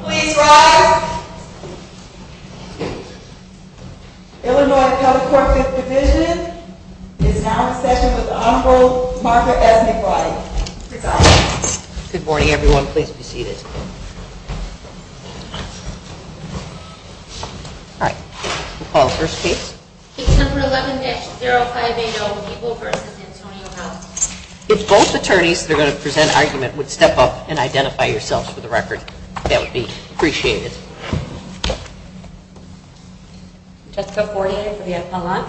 Please rise. Illinois Telecorp is now in session with Honorable Martha S. McFarland. Good morning, everyone. Please be seated. All right. We'll call the first case. If both attorneys that are going to present an argument would step up and identify yourselves for the record, that would be appreciated. Jessica Fortier for the appellant.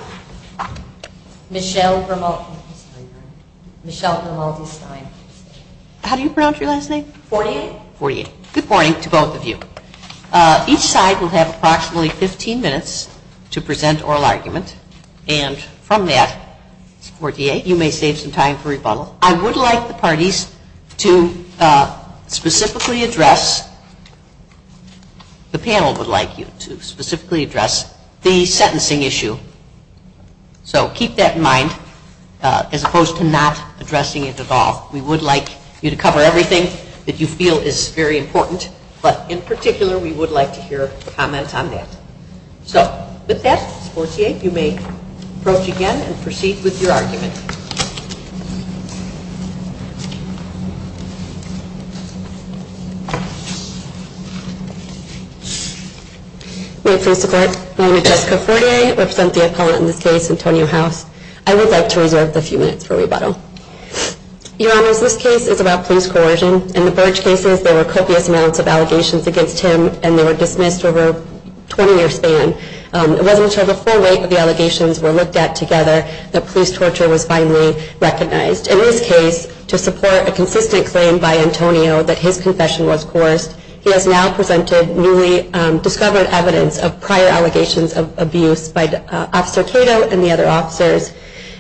Michelle from all these sides. How do you pronounce your last name? Fortier. Fortier. Good morning to both of you. Each side will have approximately 15 minutes to present oral argument. And from that, Fortier, you may save some time for rebuttal. I would like the parties to specifically address, the panel would like you to specifically address the sentencing issue. So keep that in mind as opposed to not addressing it at all. We would like you to cover everything that you feel is very important. But in particular, we would like to hear a comment on that. So with that, Fortier, you may approach again and proceed with your argument. We'll proceed to court. My name is Jessica Fortier. I represent the appellant in this case, Antonio House. I would like to reserve a few minutes for rebuttal. Your Honor, this case is about police coercion. In the Burge cases, there were copious amounts of allegations against him, and they were dismissed over 20 years span. It wasn't until the full weight of the allegations were looked at together that police torture was finally recognized. In this case, to support a consistent claim by Antonio that his confession was coarse, he has now presented newly discovered evidence of prior allegations of abuse by Officer Cato and the other officers.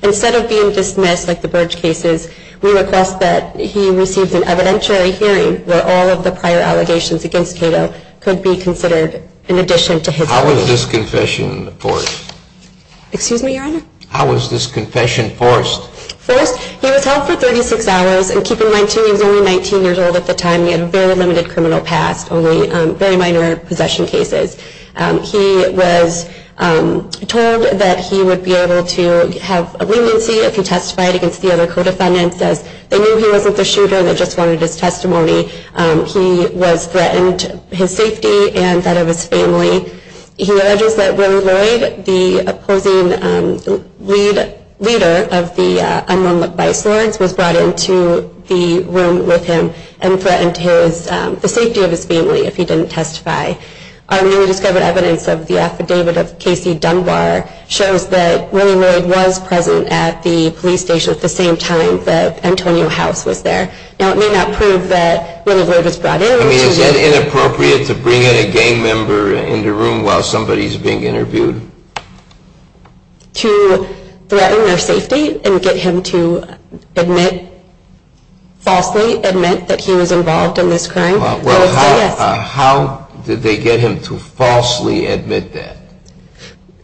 Instead of being dismissed at the Burge cases, we request that he receives an evidentiary hearing where all of the prior allegations against Cato could be considered in addition to his confession. How was this confession forced? Excuse me, Your Honor? How was this confession forced? First, he was held for 36 hours. And keep in mind, Cato was only 19 years old at the time. He had a very limited criminal past, only very minor possession cases. He was told that he would be able to have a remand fee if he testified against the other co-defendants. They knew he wasn't the shooter and they just wanted his testimony. He was threatened his safety and that of his family. He alleges that Willie Lloyd, the opposing leader of the unarmed by force, was brought into the room with him and threatened the safety of his family if he didn't testify. Our newly discovered evidence of the affidavit of Casey Dunbar shows that Willie Lloyd was present at the police station at the same time that Antonio House was there. Now, it may not prove that Willie Lloyd was brought in. I mean, is it inappropriate to bring in a gang member into a room while somebody is being interviewed? To threaten their safety and get him to admit, falsely admit that he was involved in this crime. Well, how did they get him to falsely admit that?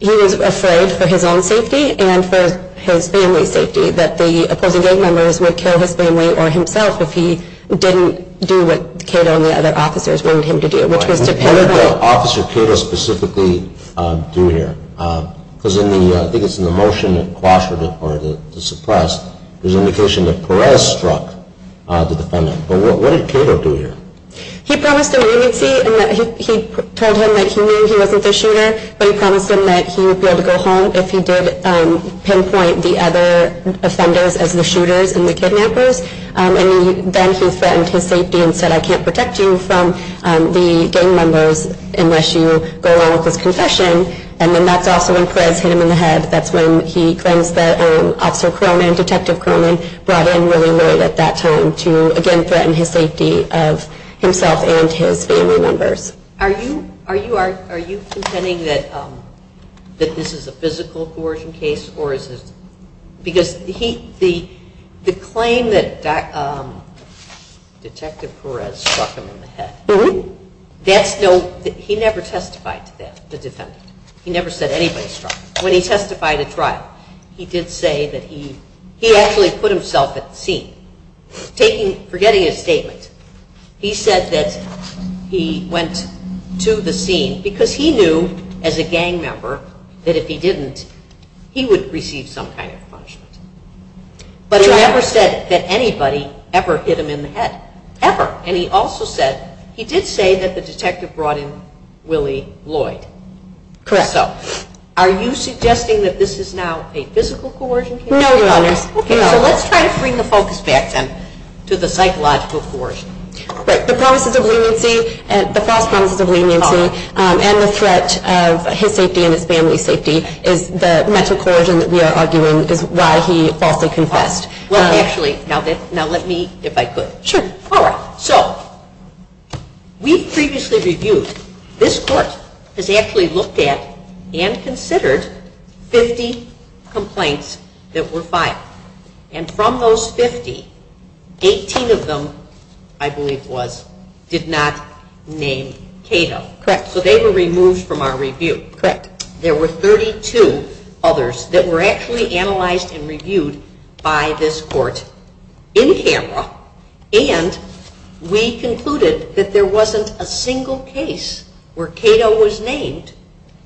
He was afraid for his own safety and for his family's safety. That the opposing gang members would kill his family or himself if he didn't do what Cato and the other officers wanted him to do, which was dependably. What did Officer Cato specifically do here? Because I think it's in the motion, the question or the surprise, there's indication that Perez struck the defendant. What did Cato do here? He promised an amnesty. He told him that he knew he wasn't the shooter, but he promised him that he would be able to go home if he did pinpoint the other offenders as the shooters and the kidnappers. And then he threatened his safety and said, I can't protect you from the gang members unless you go along with the concession. And then that's also when Perez hit him in the head. That's when he claimed that Officer Cronin, Detective Cronin, brought in Willie Lloyd at that time to, again, threaten his safety of himself and his family members. Are you contending that this is a physical coercing case? Because the claim that Detective Perez struck him in the head, he never testified to that, the defendant. He never said anybody struck him. When he testified at trial, he did say that he actually put himself at the scene. Forgetting his statement, he said that he went to the scene because he knew as a gang member that if he didn't, he would receive some kind of punishment. But he never said that anybody ever hit him in the head, ever. And he also said, he did say that the detective brought in Willie Lloyd. Correct. So, are you suggesting that this is not a physical coercion case? No, no. Let's try to bring the focus back, then, to the psychological coercion. Right. The positive leniency, the false positive leniency, and the threat of his safety and his family's safety is the method of coercion that we are arguing is why he falsely confessed. Well, actually, now let me, if I could. Sure. All right. So, we've previously reviewed. This court has actually looked at and considered 50 complaints that were filed. And from those 50, 18 of them, I believe, was, did not name Cato. Correct. So they were removed from our review. Correct. There were 32 others that were actually analyzed and reviewed by this court in camera. And we concluded that there wasn't a single case where Cato was named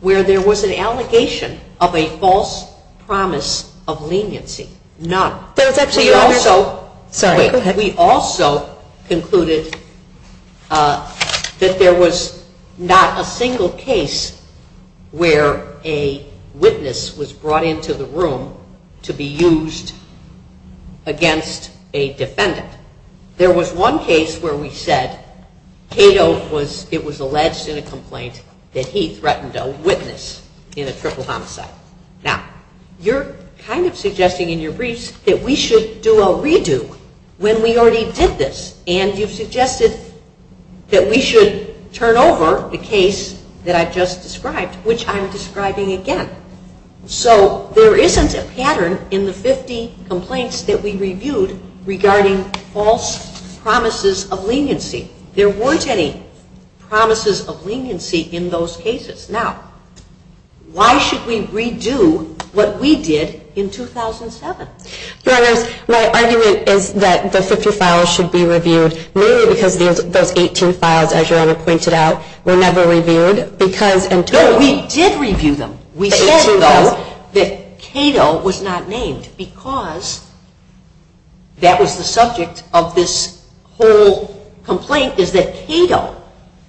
where there was an allegation of a false promise of leniency. None. We also concluded that there was not a single case where a witness was brought into the room to be used against a defendant. There was one case where we said Cato was, it was alleged in a complaint that he threatened a witness in a triple homicide. Now, you're kind of suggesting in your briefs that we should do a redo when we already did this. And you've suggested that we should turn over the case that I've just described, which I'm describing again. So, there isn't a pattern in the 50 complaints that we reviewed regarding false promises of leniency. There weren't any promises of leniency in those cases. Now, why should we redo what we did in 2007? My argument is that the 50 files should be reviewed. Mainly because those 18 files, as Joanna pointed out, were never reviewed. No, we did review them. We said, though, that Cato was not named because that was the subject of this whole complaint, is that Cato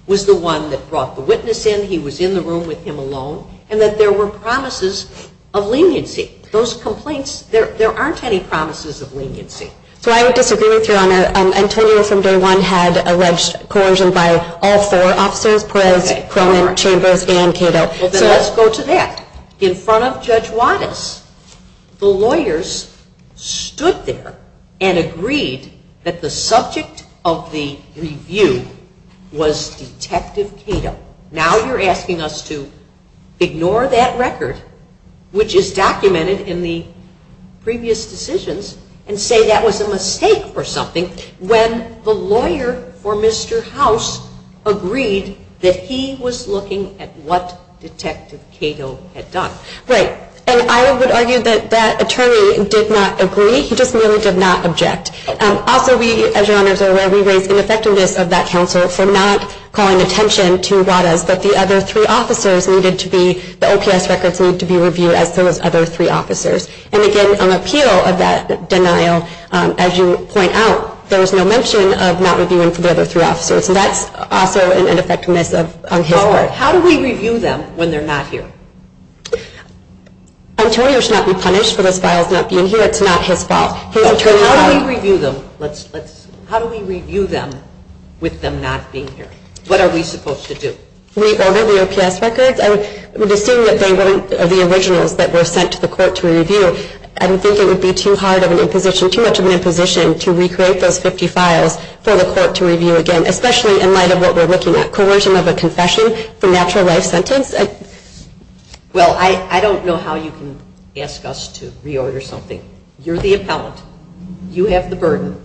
was the one that brought the witness in. He was in the room with him alone. And that there were promises of leniency. Those complaints, there aren't any promises of leniency. So, I would disagree with you on that. Antonio from day one had alleged corrosion by all four. Officer, criminal chamber, and Cato. Well, then let's go to that. In front of Judge Wattis, the lawyers stood there and agreed that the subject of the review was Detective Cato. Now you're asking us to ignore that record, which is documented in the previous decisions, and say that was a mistake for something when the lawyer for Mr. House agreed that he was looking at what Detective Cato had done. Right. And I would argue that that attorney did not agree. He just merely did not object. Also, as your Honor's aware, we raised an effectiveness of that counsel for not calling attention to Wattis, but the other three officers needed to be, the OPS records needed to be reviewed as those other three officers. And again, on appeal of that denial, as you point out, there was no mention of not reviewing for the other three officers. And that's also an ineffectiveness on his part. How do we review them when they're not here? Antonio should not be punished for his files not being here. It's not his fault. How do we review them with them not being here? What are we supposed to do? Reorder the OPS records? And assuming that they weren't the originals that were sent to the court to review, I would think it would be too hard of an imposition, too much of an imposition, to recreate those 50 files for the court to review again, especially in light of what we're looking at, coercion of a confession for a natural life sentence? Well, I don't know how you can ask us to reorder something. You're the appellant. You have the burden.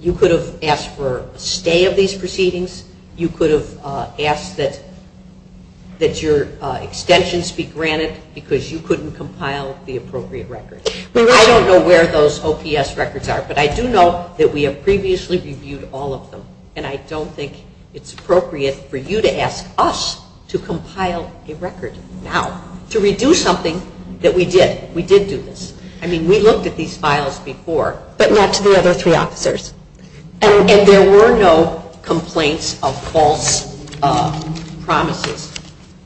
You could have asked for a stay of these proceedings. You could have asked that your extensions be granted because you couldn't compile the appropriate records. I don't know where those OPS records are, but I do know that we have previously reviewed all of them. And I don't think it's appropriate for you to ask us to compile a record now, to review something that we did. We did do this. I mean, we looked at these files before. But not to the other three officers. And there were no complaints of false promises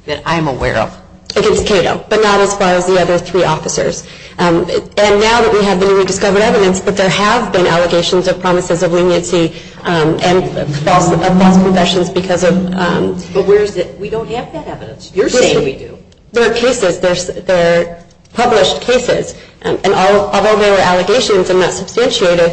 that I'm aware of. It is true, but not as far as the other three officers. And now that we have rediscovered evidence that there have been allegations of promises of leniency and false confessions because of – But where is it? We don't have that evidence. You're saying we do. There are cases. There are published cases. And although there are allegations and not substantiated,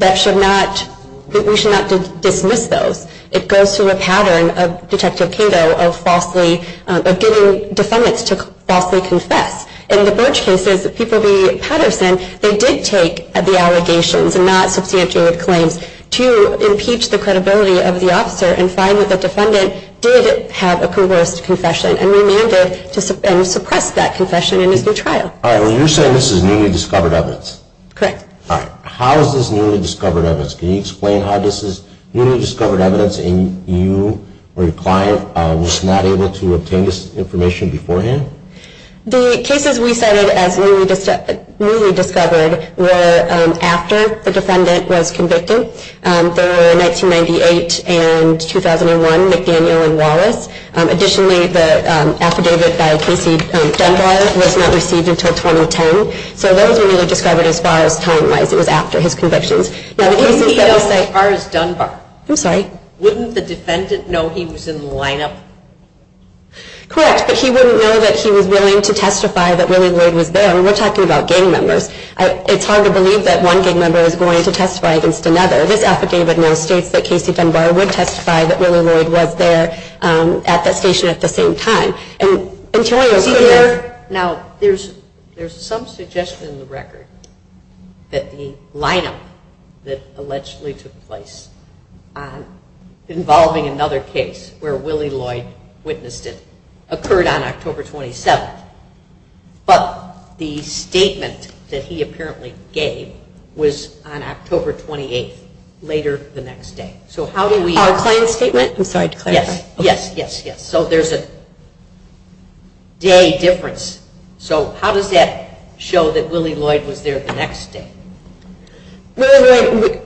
that should not – we should not dismiss those. It goes through a pattern of detective Cato of falsely – of giving defendants to falsely consent. In the Birch cases, people be partisan. They did take the allegations and not substantiated claims to impeach the credibility of the officer and find that the defendant did have approvalist confession. And we amended and suppressed that confession in the pre-trial. All right. Well, you're saying this is newly discovered evidence. Correct. All right. How is this newly discovered evidence? Can you explain how this is newly discovered evidence, and you or your client was not able to obtain this information beforehand? The cases we cited as newly discovered were after the defendant was convicted. They were in 1998 and 2001, McDaniel and Wallace. Additionally, the affidavit by PC Dunbar was not received until 2010. So those we would describe it as far as timeline is after his conviction. But wouldn't he know that ours is Dunbar? I'm sorry? Wouldn't the defendant know he was in the lineup? Correct. But he wouldn't know that he was willing to testify that Lily Wood was there. I mean, we're talking about gang members. It's hard to believe that one gang member is going to testify against another. This affidavit now states that PC Dunbar would testify that Lily Wood was there at that station at the same time. Now, there's some suggestion in the record that the lineup that allegedly took place, involving another case where Lily Wood witnessed it, occurred on October 27th. But the statement that he apparently gave was on October 28th, later the next day. So how do we... Our client's statement? I'm sorry to clarify. Yes, yes, yes. So there's a day difference. So how does that show that Lily Wood was there the next day? Wait, wait, wait.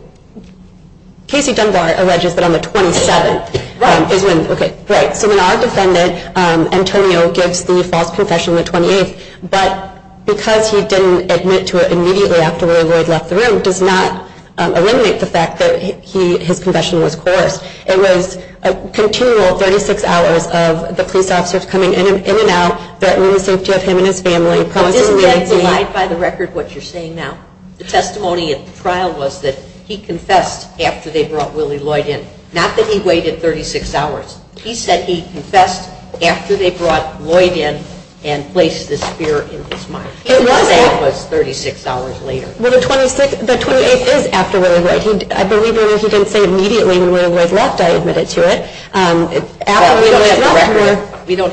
PC Dunbar arregested on the 27th. Right. Okay. Right. So our defendant, Antonio, gives the false confession the 28th. But because he didn't admit to it immediately after Lily Wood left the room, does not eliminate the fact that his confession was forced. It was a continual 36 hours of the police officers coming in and out, threatening to injure him and his family. I didn't realize by the record what you're saying now. The testimony at the trial was that he confessed after they brought Lily Lloyd in. Not that he waited 36 hours. He said he confessed after they brought Lloyd in and placed the spear in his mouth. It was 36 hours later. Well, the 28th is after Lily Wood. I believe Lily Wood didn't say immediately when Lily Wood left. I admitted to it. We don't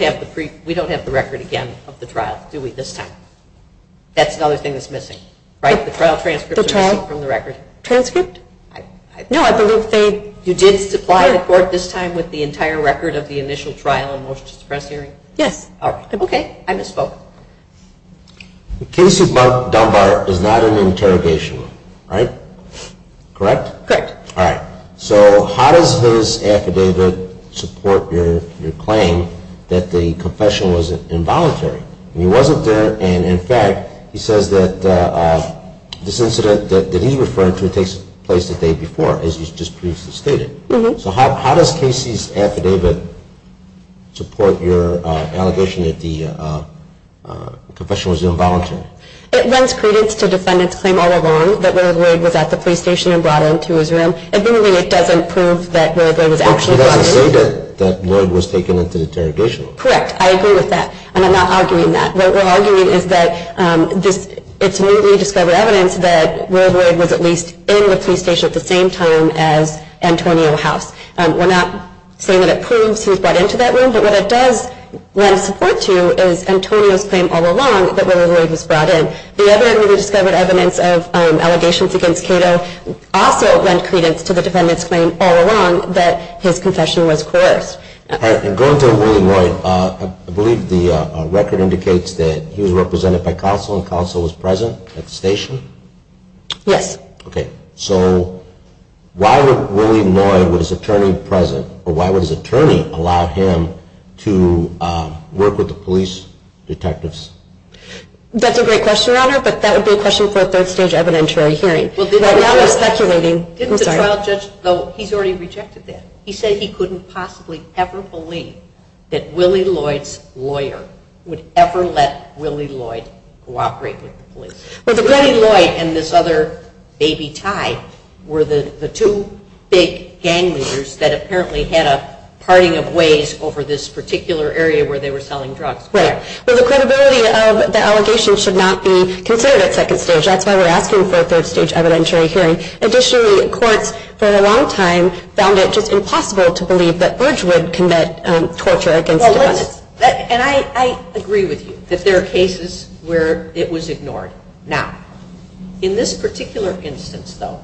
have the record again of the trial, do we, this time? That's the other thing that's missing, right? The trial transcript. The trial transcript? No, I was going to say you did supply a court this time with the entire record of the initial trial and motion to suppress hearing. Yes. Okay. I misspoke. The case of Dunbar is not an interrogation, right? Correct? Correct. All right. So how does this affidavit support your claim that the confession was involuntary? He wasn't there, and, in fact, he says that this incident that he's referring to takes place the day before, as was just previously stated. So how does Casey's affidavit support your allegation that the confession was involuntary? It runs credence to defendant's claim all along that Lily Lloyd was at the police station and brought into his room. And really, it doesn't prove that Lily Lloyd was actually there. But you don't say that Lloyd was taken into interrogation. Correct. I agree with that, and I'm not arguing that. What we're arguing is that it's newly discovered evidence that Lily Lloyd was at least in the police station at the same time as Antonio House. We're not saying that it proves he was brought into that room, but what it does run support to is Antonio's claim all along that Lily Lloyd was brought in. The evidence, newly discovered evidence of allegations against Cato also runs credence to the defendant's claim all along that his confession was coerced. And going to Lily Lloyd, I believe the record indicates that he was represented by counsel and counsel was present at the station? Yes. Okay. So why would Lily Lloyd, with his attorney present, or why would his attorney allow him to work with the police detectives? That's a great question, Your Honor, but that would be a question for a third-stage evidentiary hearing. Didn't the trial judge, though, he's already rejected that. He says he couldn't possibly ever believe that Lily Lloyd's lawyer would ever let Lily Lloyd cooperate with the police. But Lily Lloyd and this other baby Tye were the two big gang leaders that apparently had a parting of ways over this particular area where they were selling drugs. Right. So the credibility of the allegations should not be considered at second stage. That's why we're asking for a third-stage evidentiary hearing. Additionally, the court for a long time found it just impossible to believe that Burge would commit torture against a woman. And I agree with you that there are cases where it was ignored. Now, in this particular instance, though,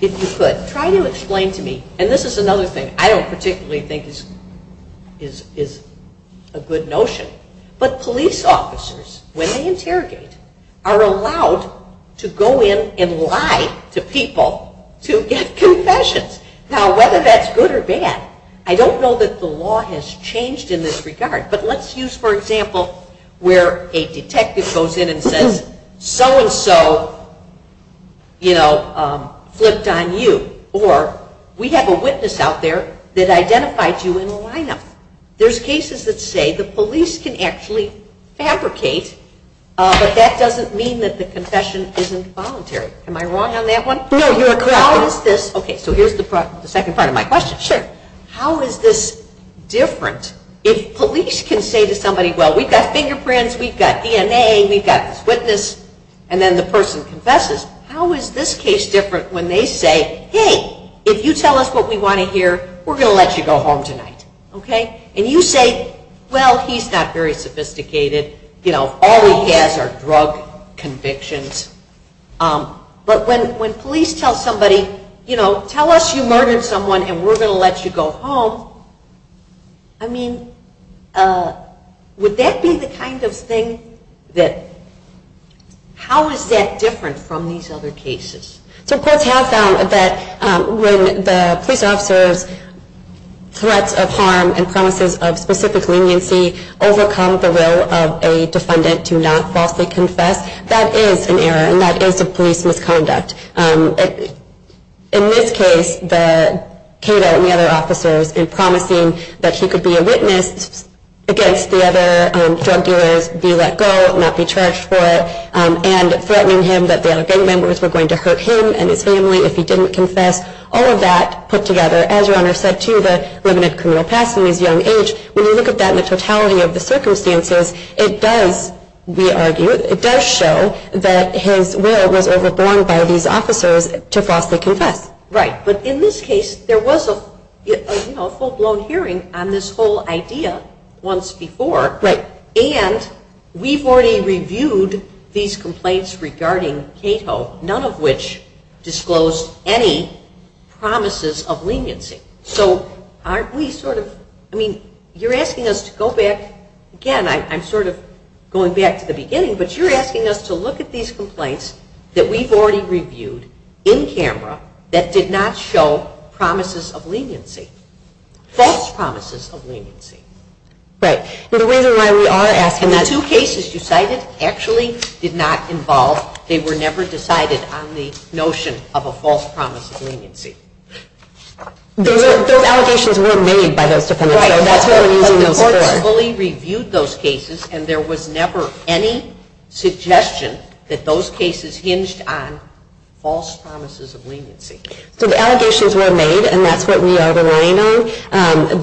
if you could try to explain to me, and this is another thing I don't particularly think is a good notion, but police officers, when they interrogate, are allowed to go in and lie to people to get confessions. Now, whether that's good or bad, I don't know that the law has changed in this regard, but let's use, for example, where a detective goes in and says, so-and-so, you know, flipped on you. Or we have a witness out there that identifies you in the lineup. There's cases that say the police can actually fabricate, but that doesn't mean that the confession is involuntary. Am I wrong on that one? No, you're correct. How is this? Okay, so here's the second part of my question. Sure. How is this different if police can say to somebody, well, we've got fingerprints, we've got DNA, we've got this witness, and then the person confesses? How is this case different when they say, hey, if you tell us what we want to hear, we're going to let you go home tonight. Okay? And you say, well, he's not very sophisticated. You know, all he has are drug convictions. But when police tell somebody, you know, tell us you murdered someone and we're going to let you go home, I mean, would that be the kind of thing that – how is that different from these other cases? The court found that when the police officers threat of harm and promises of specific leniency overcome the role of a defendant to not falsely confess, that is an error and that is a police misconduct. In this case, Kato and the other officers are promising that he could be a witness against the other drug dealers, be let go, not be charged for it, and threatening him that their gang members were going to hurt him and his family if he didn't confess. All of that put together, as your Honor said too, the limited career path from his young age. When you look at that in the totality of the circumstances, it does, we argue, it does show that his will was overborne by these officers to falsely confess. Right. But in this case, there was a, you know, a full-blown hearing on this whole idea once before. Right. And we've already reviewed these complaints regarding Kato, none of which disclosed any promises of leniency. So aren't we sort of, I mean, you're asking us to go back, again, I'm sort of going back to the beginning, but you're asking us to look at these complaints that we've already reviewed in camera that did not show promises of leniency, false promises of leniency. Right. The reason why we are asking that. And the two cases you cited actually did not involve, they were never decided on the notion of a false promise of leniency. Those allegations were made by those defendants. Right. The court has fully reviewed those cases, and there was never any suggestion that those cases hinged on false promises of leniency. So the allegations were made, and that's what we are denying.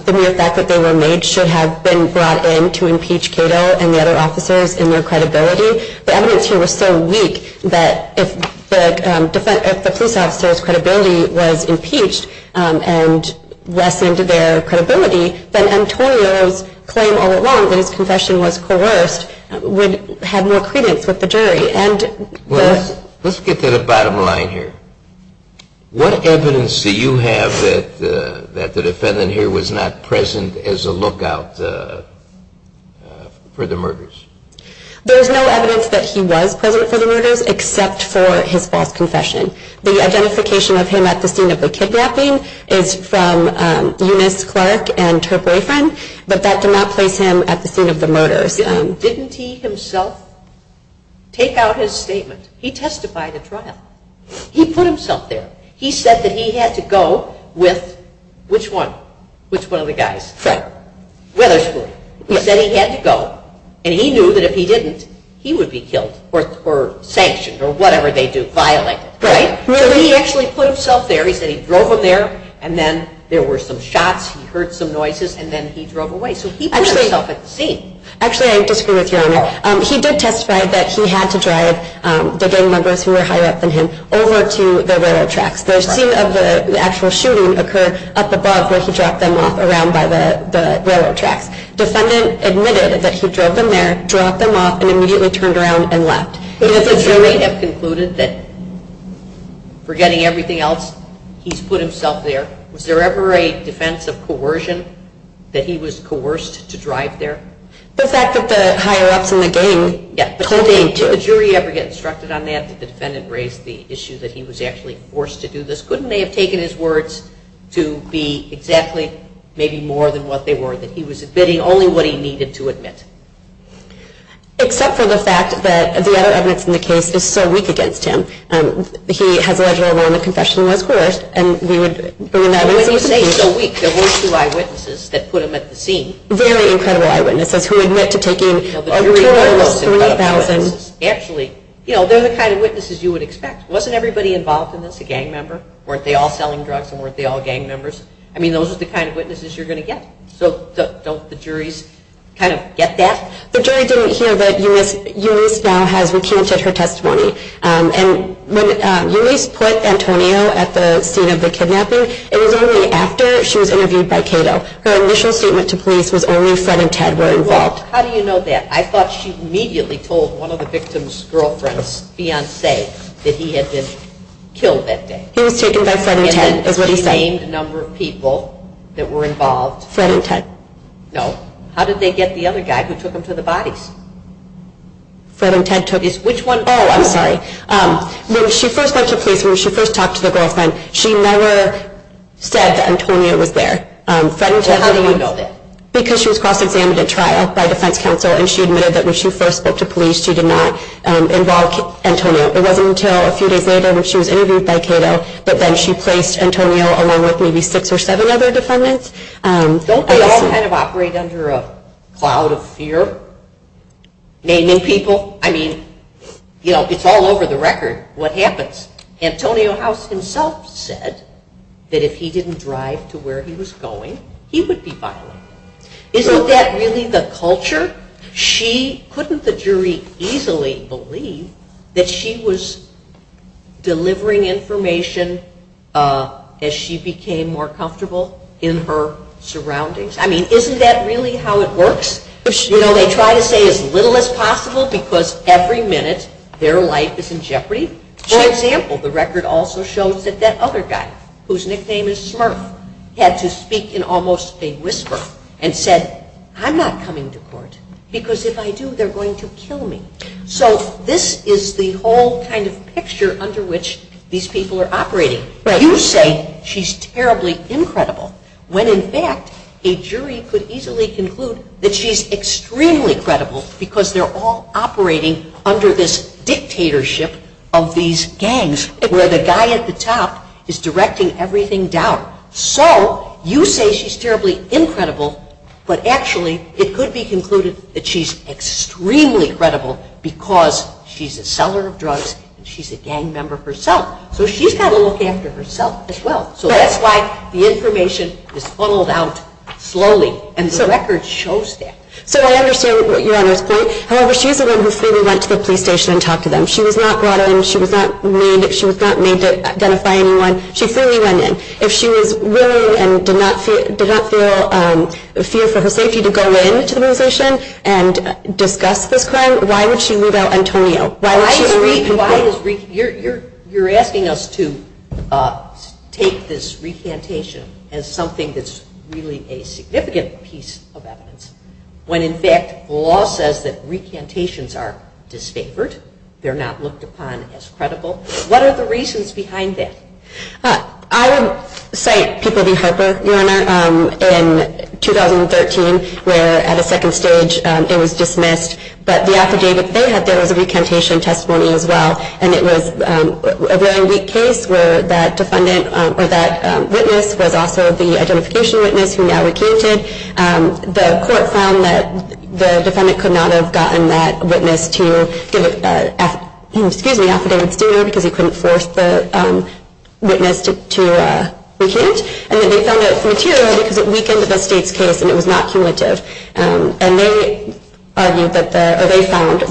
The mere fact that they were made should have been brought in to impeach Kato and the other officers in their credibility. The evidence here was so weak that if the police officer's credibility was impeached and lessened their credibility, then Antonio's claim all along that his confession was coerced would have no credence with the jury. Let's get to the bottom line here. What evidence do you have that the defendant here was not present as a lookout for the murders? There is no evidence that he was present for the murders except for his false confession. The identification of him at the scene of the kidnapping is from Eunice Clark and her boyfriend, but that demonstrates him at the scene of the murders. Didn't he himself take out his statement? He testified at trial. He put himself there. He said that he had to go with, which one? Which one of the guys? Witherspoon. Witherspoon. He said he had to go, and he knew that if he didn't, he would be killed or sanctioned or whatever they do, so he actually put himself there. He said he drove up there, and then there were some shots. He heard some noises, and then he drove away. So he put himself at the scene. Actually, I disagree with you on that. He did testify that he had to drive the gang members who were higher up than him over to the railroad tracks. Those two of the actual shooting occurred up above where he dropped them off around by the railroad tracks. The defendant admitted that he drove them there, dropped them off, and immediately turned around and left. So does the jury have concluded that, forgetting everything else, he's put himself there? Was there ever a defense of coercion, that he was coerced to drive there? The fact that the higher-ups in the gang told him to. Did the jury ever get instructed on that? Did the defendant raise the issue that he was actually forced to do this? Couldn't they have taken his words to be exactly maybe more than what they were, that he was admitting only what he needed to admit? Except for the fact that the other evidence in the case is so weak against him. He has led a long and professional life, of course, and we would bring that up. It's so weak. There were two eyewitnesses that put him at the scene. Very incredible eyewitnesses who admit to taking over $3,000. Actually, you know, they're the kind of witnesses you would expect. Wasn't everybody involved in this a gang member? Weren't they all selling drugs, and weren't they all gang members? I mean, those are the kind of witnesses you're going to get. So, don't the juries kind of get that? The jury didn't hear that Eunice now has a key witness at her testimony. And when Eunice put Antonio at the scene of the kidnapping, it was only after she was interviewed by Cato. Her initial statement to police was only Fred and Ted were involved. Well, how do you know that? I thought she immediately told one of the victim's girlfriends, Beyonce, that he had been killed that day. He was taken by Fred and Ted. And the remaining number of people that were involved? Fred and Ted. No. How did they get the other guy who took him to the body? Fred and Ted took him. Which one? Oh, I'm sorry. When she first went to police, when she first talked to the girlfriend, she never said Antonio was there. How do you know that? Because she was cross-examined at trial by defense counsel, and she admitted that when she first went to police, she did not involve Antonio. It wasn't until a few days later when she was interviewed by Cato, but then she placed Antonio along with maybe six or seven other defendants. Don't they all kind of operate under a cloud of fear, naming people? I mean, you know, it's all over the record what happens. Antonio House himself said that if he didn't drive to where he was going, he would be fined. Isn't that really the culture? Couldn't the jury easily believe that she was delivering information as she became more comfortable in her surroundings? I mean, isn't that really how it works? They try to say as little as possible because every minute their life is in jeopardy. For example, the record also shows that that other guy, whose nickname is Smurf, had to speak in almost a whisper and said, I'm not coming to court because if I do, they're going to kill me. So this is the whole kind of picture under which these people are operating. You say she's terribly incredible when, in fact, a jury could easily conclude that she's extremely credible because they're all operating under this dictatorship of these gangs, where the guy at the top is directing everything down. So you say she's terribly incredible, but actually it could be concluded that she's extremely credible because she's a seller of drugs and she's a gang member herself. So she's got to look after herself as well. So that's why the information is funneled out slowly, and the record shows that. So I understand what you're saying. However, she's the one who fully went to the police station and talked to them. She was not brought in. She was not made to identify anyone. She fully went in. If she was willing and did not feel a fear for her safety to go into the immigration and discuss the crime, why would she leave out Antonio? You're asking us to take this recantation as something that's really a significant piece of evidence when, in fact, the law says that recantations are distapored. They're not looked upon as credible. What are the reasons behind this? I will cite People v. Harper in 2013, where at a second stage it was dismissed, but the affidavit they had there was a recantation testimony as well, and it was a very weak case where that witness, the identification witness who now recanted, the court found that the defendant could not have gotten that witness to give an affidavit to him because he couldn't force the witness to recant, and then they found out from here that this was a weak case and it was not cumulative, and they found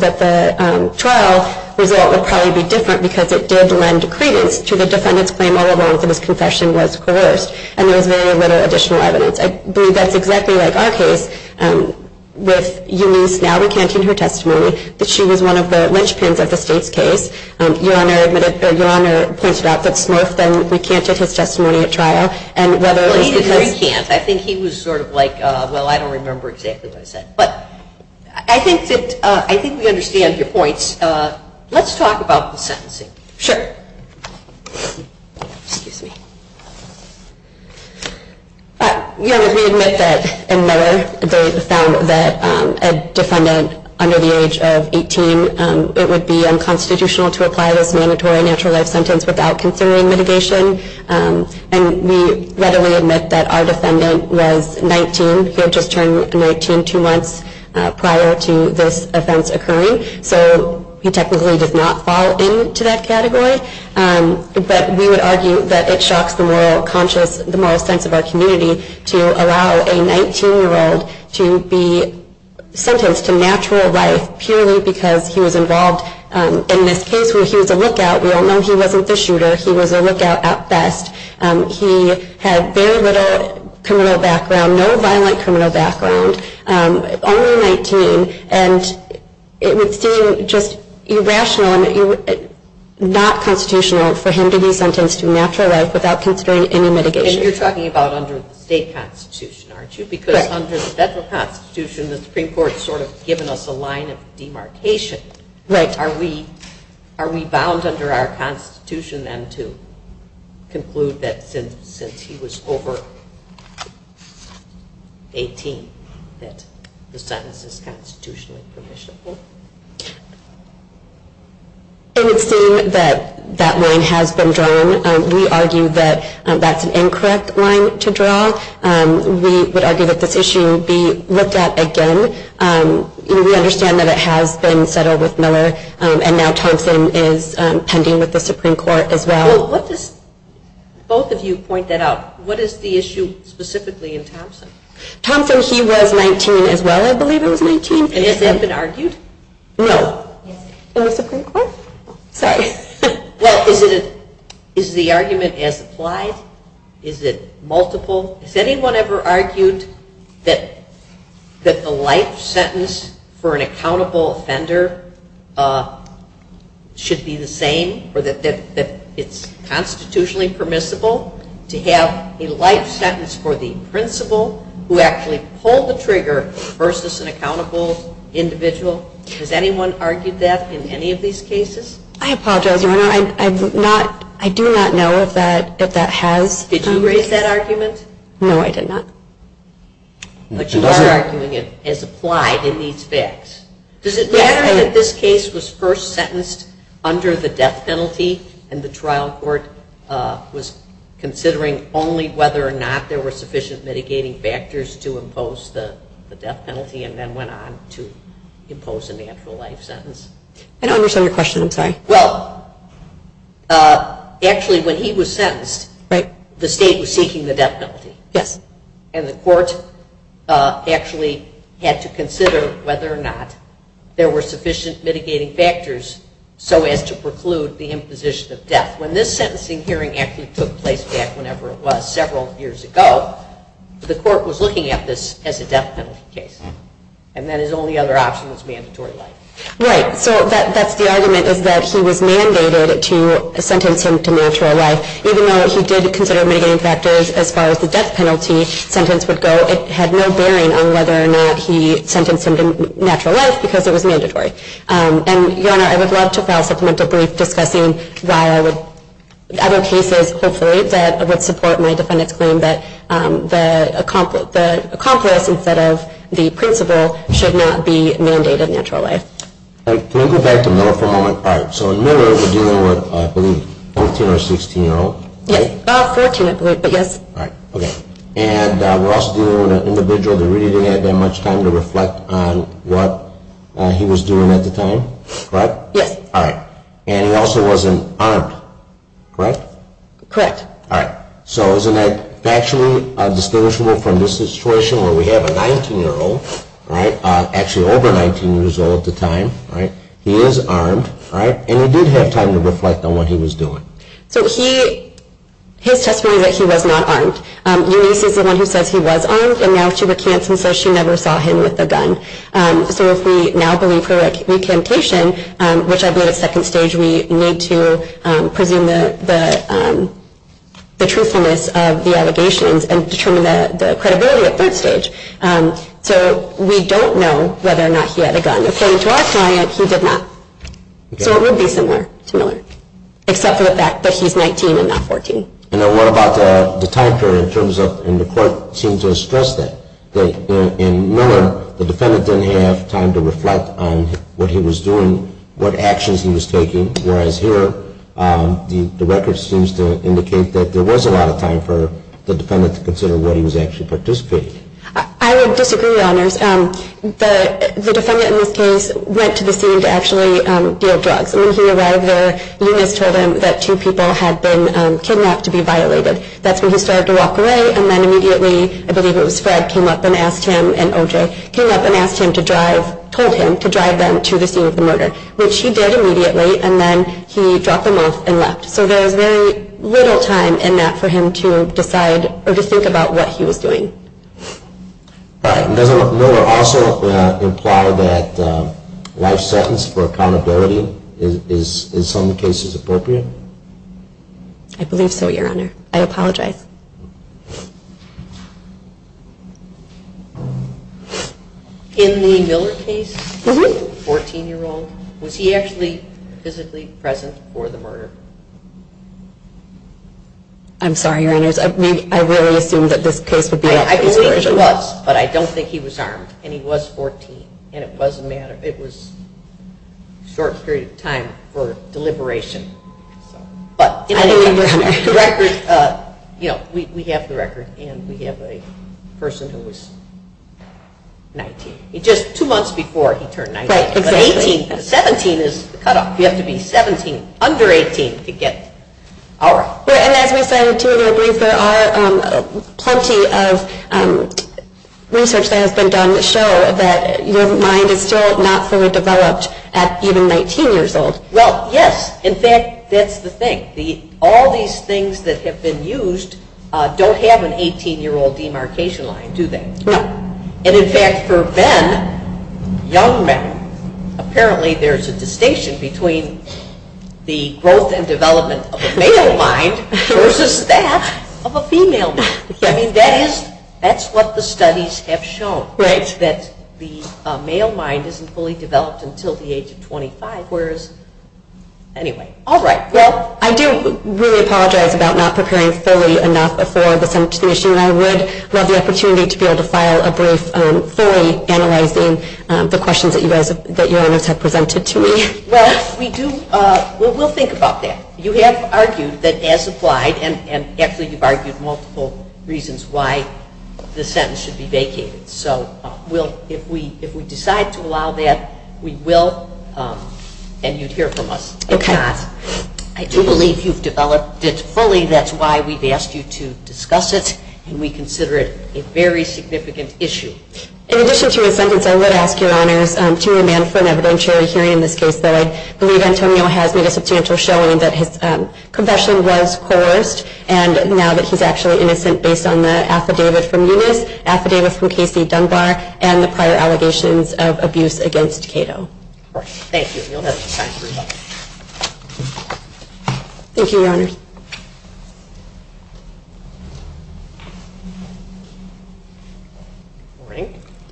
that the trial result would probably be different because it did lend credence to the defendant's claim all along that his confession was coerced, and there was very little additional evidence. I believe that's exactly like our case with Eunice. Now we can't give her testimony, but she was one of the linchpins of the safe case. Your Honor pointed out that Smith then recanted his testimony at trial. He recanted. I think he was sort of like, well, I don't remember exactly what he said, but I think we understand your points. Let's talk about the sentencing. Sure. Your Honor, we admit that in Meador, there is a sound that a defendant under the age of 18, it would be unconstitutional to apply this mandatory natural death sentence without considering mitigation, and we readily admit that our defendant was 19, so just turned 19 two months prior to this offense occurring, so he technically did not fall into that category. But we would argue that it shocks the moral conscience, the moral sense of our community to allow a 19-year-old to be sentenced to natural life purely because he was involved in this case where he was a lookout. We all know he wasn't the shooter. He was a lookout at best. He had very little criminal background, no violent criminal background, only 19, and it would seem just irrational and not constitutional for him to be sentenced to natural life without considering any mitigation. And you're talking about under the state constitution, aren't you? Because under the federal constitution, the Supreme Court has sort of given us a line of demarcation. Right. Are we bound under our constitution then to conclude that since he was over 18 that his sentence is constitutionally provisional? It would seem that that line has been drawn. We argue that that's an incorrect line to draw. We would argue that this issue would be with that again. We understand that it has been settled with Miller, and now Thompson is pending with the Supreme Court as well. Both of you point that out. What is the issue specifically in Thompson? Thompson, he was 19 as well, I believe it was 19. Has that been argued? No. With the Supreme Court? Sorry. Well, is the argument as applied? Is it multiple? Has anyone ever argued that the life sentence for an accountable offender should be the same or that it's constitutionally permissible to have a life sentence for the principal who actually pulled the trigger versus an accountable individual? Has anyone argued that in any of these cases? I apologize. I do not know that that has. Did you raise that argument? No, I did not. But your argument is applied in these facts. Does it matter that this case was first sentenced under the death penalty and the trial court was considering only whether or not there were sufficient mitigating factors to impose the death penalty and then went on to impose a natural life sentence? I don't understand your question. I'm sorry. Well, actually, when he was sentenced, the state was seeking the death penalty, and the court actually had to consider whether or not there were sufficient mitigating factors so as to preclude the imposition of death. When this sentencing hearing actually took place back whenever it was several years ago, the court was looking at this as a death penalty case, and that is the only other option that's mandatory life. Right. So that's the argument is that she was mandated to sentence him to natural life even though he did consider mitigating factors as far as the death penalty sentence would go. It had no bearing on whether or not he sentenced him to natural life because it was mandatory. And, Your Honor, I would love to file a supplemental brief discussing other cases that would support my defendant's claim that the accomplice instead of the principal All right. Can we go back to the lawful moment? All right. So Miller was dealing with, I believe, a 14 or 16-year-old. Yes. Fortunately, yes. All right. Okay. And Ross was dealing with an individual that really didn't have that much time to reflect on what he was doing at the time. Right? Yes. All right. And he also was an armed, correct? Correct. All right. So isn't that factually distinguishable from this situation where we have a 19-year-old, right, actually over 19 years old at the time. All right. He is armed. All right. And he did have time to reflect on what he was doing. So his testimony is that he was not armed. Ulysses is the one who said he was armed, so now she retains him so she never saw him with a gun. So if we now believe her recantation, which I believe is second stage, we need to preview the truthfulness of the allegations and determine the credibility at that stage. So we don't know whether or not he had a gun. According to our science, he did not. So it would be similar, except for the fact that he's 19 and not 14. And what about the time period? It turns out in the court seems to stress that. In Miller, the defendant didn't have time to reflect on what he was doing, what actions he was taking, whereas here the record seems to indicate that there was a lot of time for the defendant to consider where he was actually participating. I would disagree on this. The defendant in this case went to the scene to actually deal drugs. When he arrived there, Ulysses told him that two people had been kidnapped to be violated. That's when he started to walk away, and then immediately, I believe it was Fred, came up and asked him, and OJ came up and asked him to drive, told him to drive them to the scene of the murder, which he did immediately, and then he dropped them off and left. So there was very little time in that for him to decide or to think about what he was doing. Does Miller also imply that life sentence for accountability is in some cases appropriate? I believe so, Your Honor. I apologize. In the Miller case, the 14-year-old, was he actually physically present for the murder? I'm sorry, Your Honor, I really assumed that this case would be up for deliberation. I believe it was, but I don't think he was harmed, and he was 14, and it was a matter of, it was a short period of time for deliberation. We have the record, and we have a person who was 19, just two months before he turned 19. But 18, 17 is the cutoff. You have to be 17, under 18, to get out. And as you said, too, I believe there are plenty of research that has been done that show that your mind is still not fully developed at even 19 years old. Well, yes. In fact, that's the thing. All these things that have been used don't have an 18-year-old demarcation line, do they? And in fact, for men, young men, apparently there's a distinction between the growth and development of the male mind versus that of a female mind. I mean, that's what the studies have shown, that the male mind isn't fully developed until the age of 25, whereas, anyway. All right. Well, I do really apologize about not preparing fully enough for the sentence submission. I would love the opportunity to be able to file a brief story analyzing the questions that you guys have presented to me. Well, we'll think about that. You have argued that, as applied, and actually you've argued multiple reasons why the sentence should be vacated. So, if we decide to allow that, we will, and you'd hear from us. Okay. I do believe you've developed this fully. That's why we've asked you to discuss it, and we consider it a very significant issue. In addition to your sentence, I would ask your honors to amend for an evidentiary summary in this case. I believe Antonio has made a substantial showing that his confession was coerced, and now that he's actually innocent based on the affidavit from Eunice, affidavit from Casey Dunbar, and the prior allegations of abuse against Cato. Thank you. Thank you, your honors.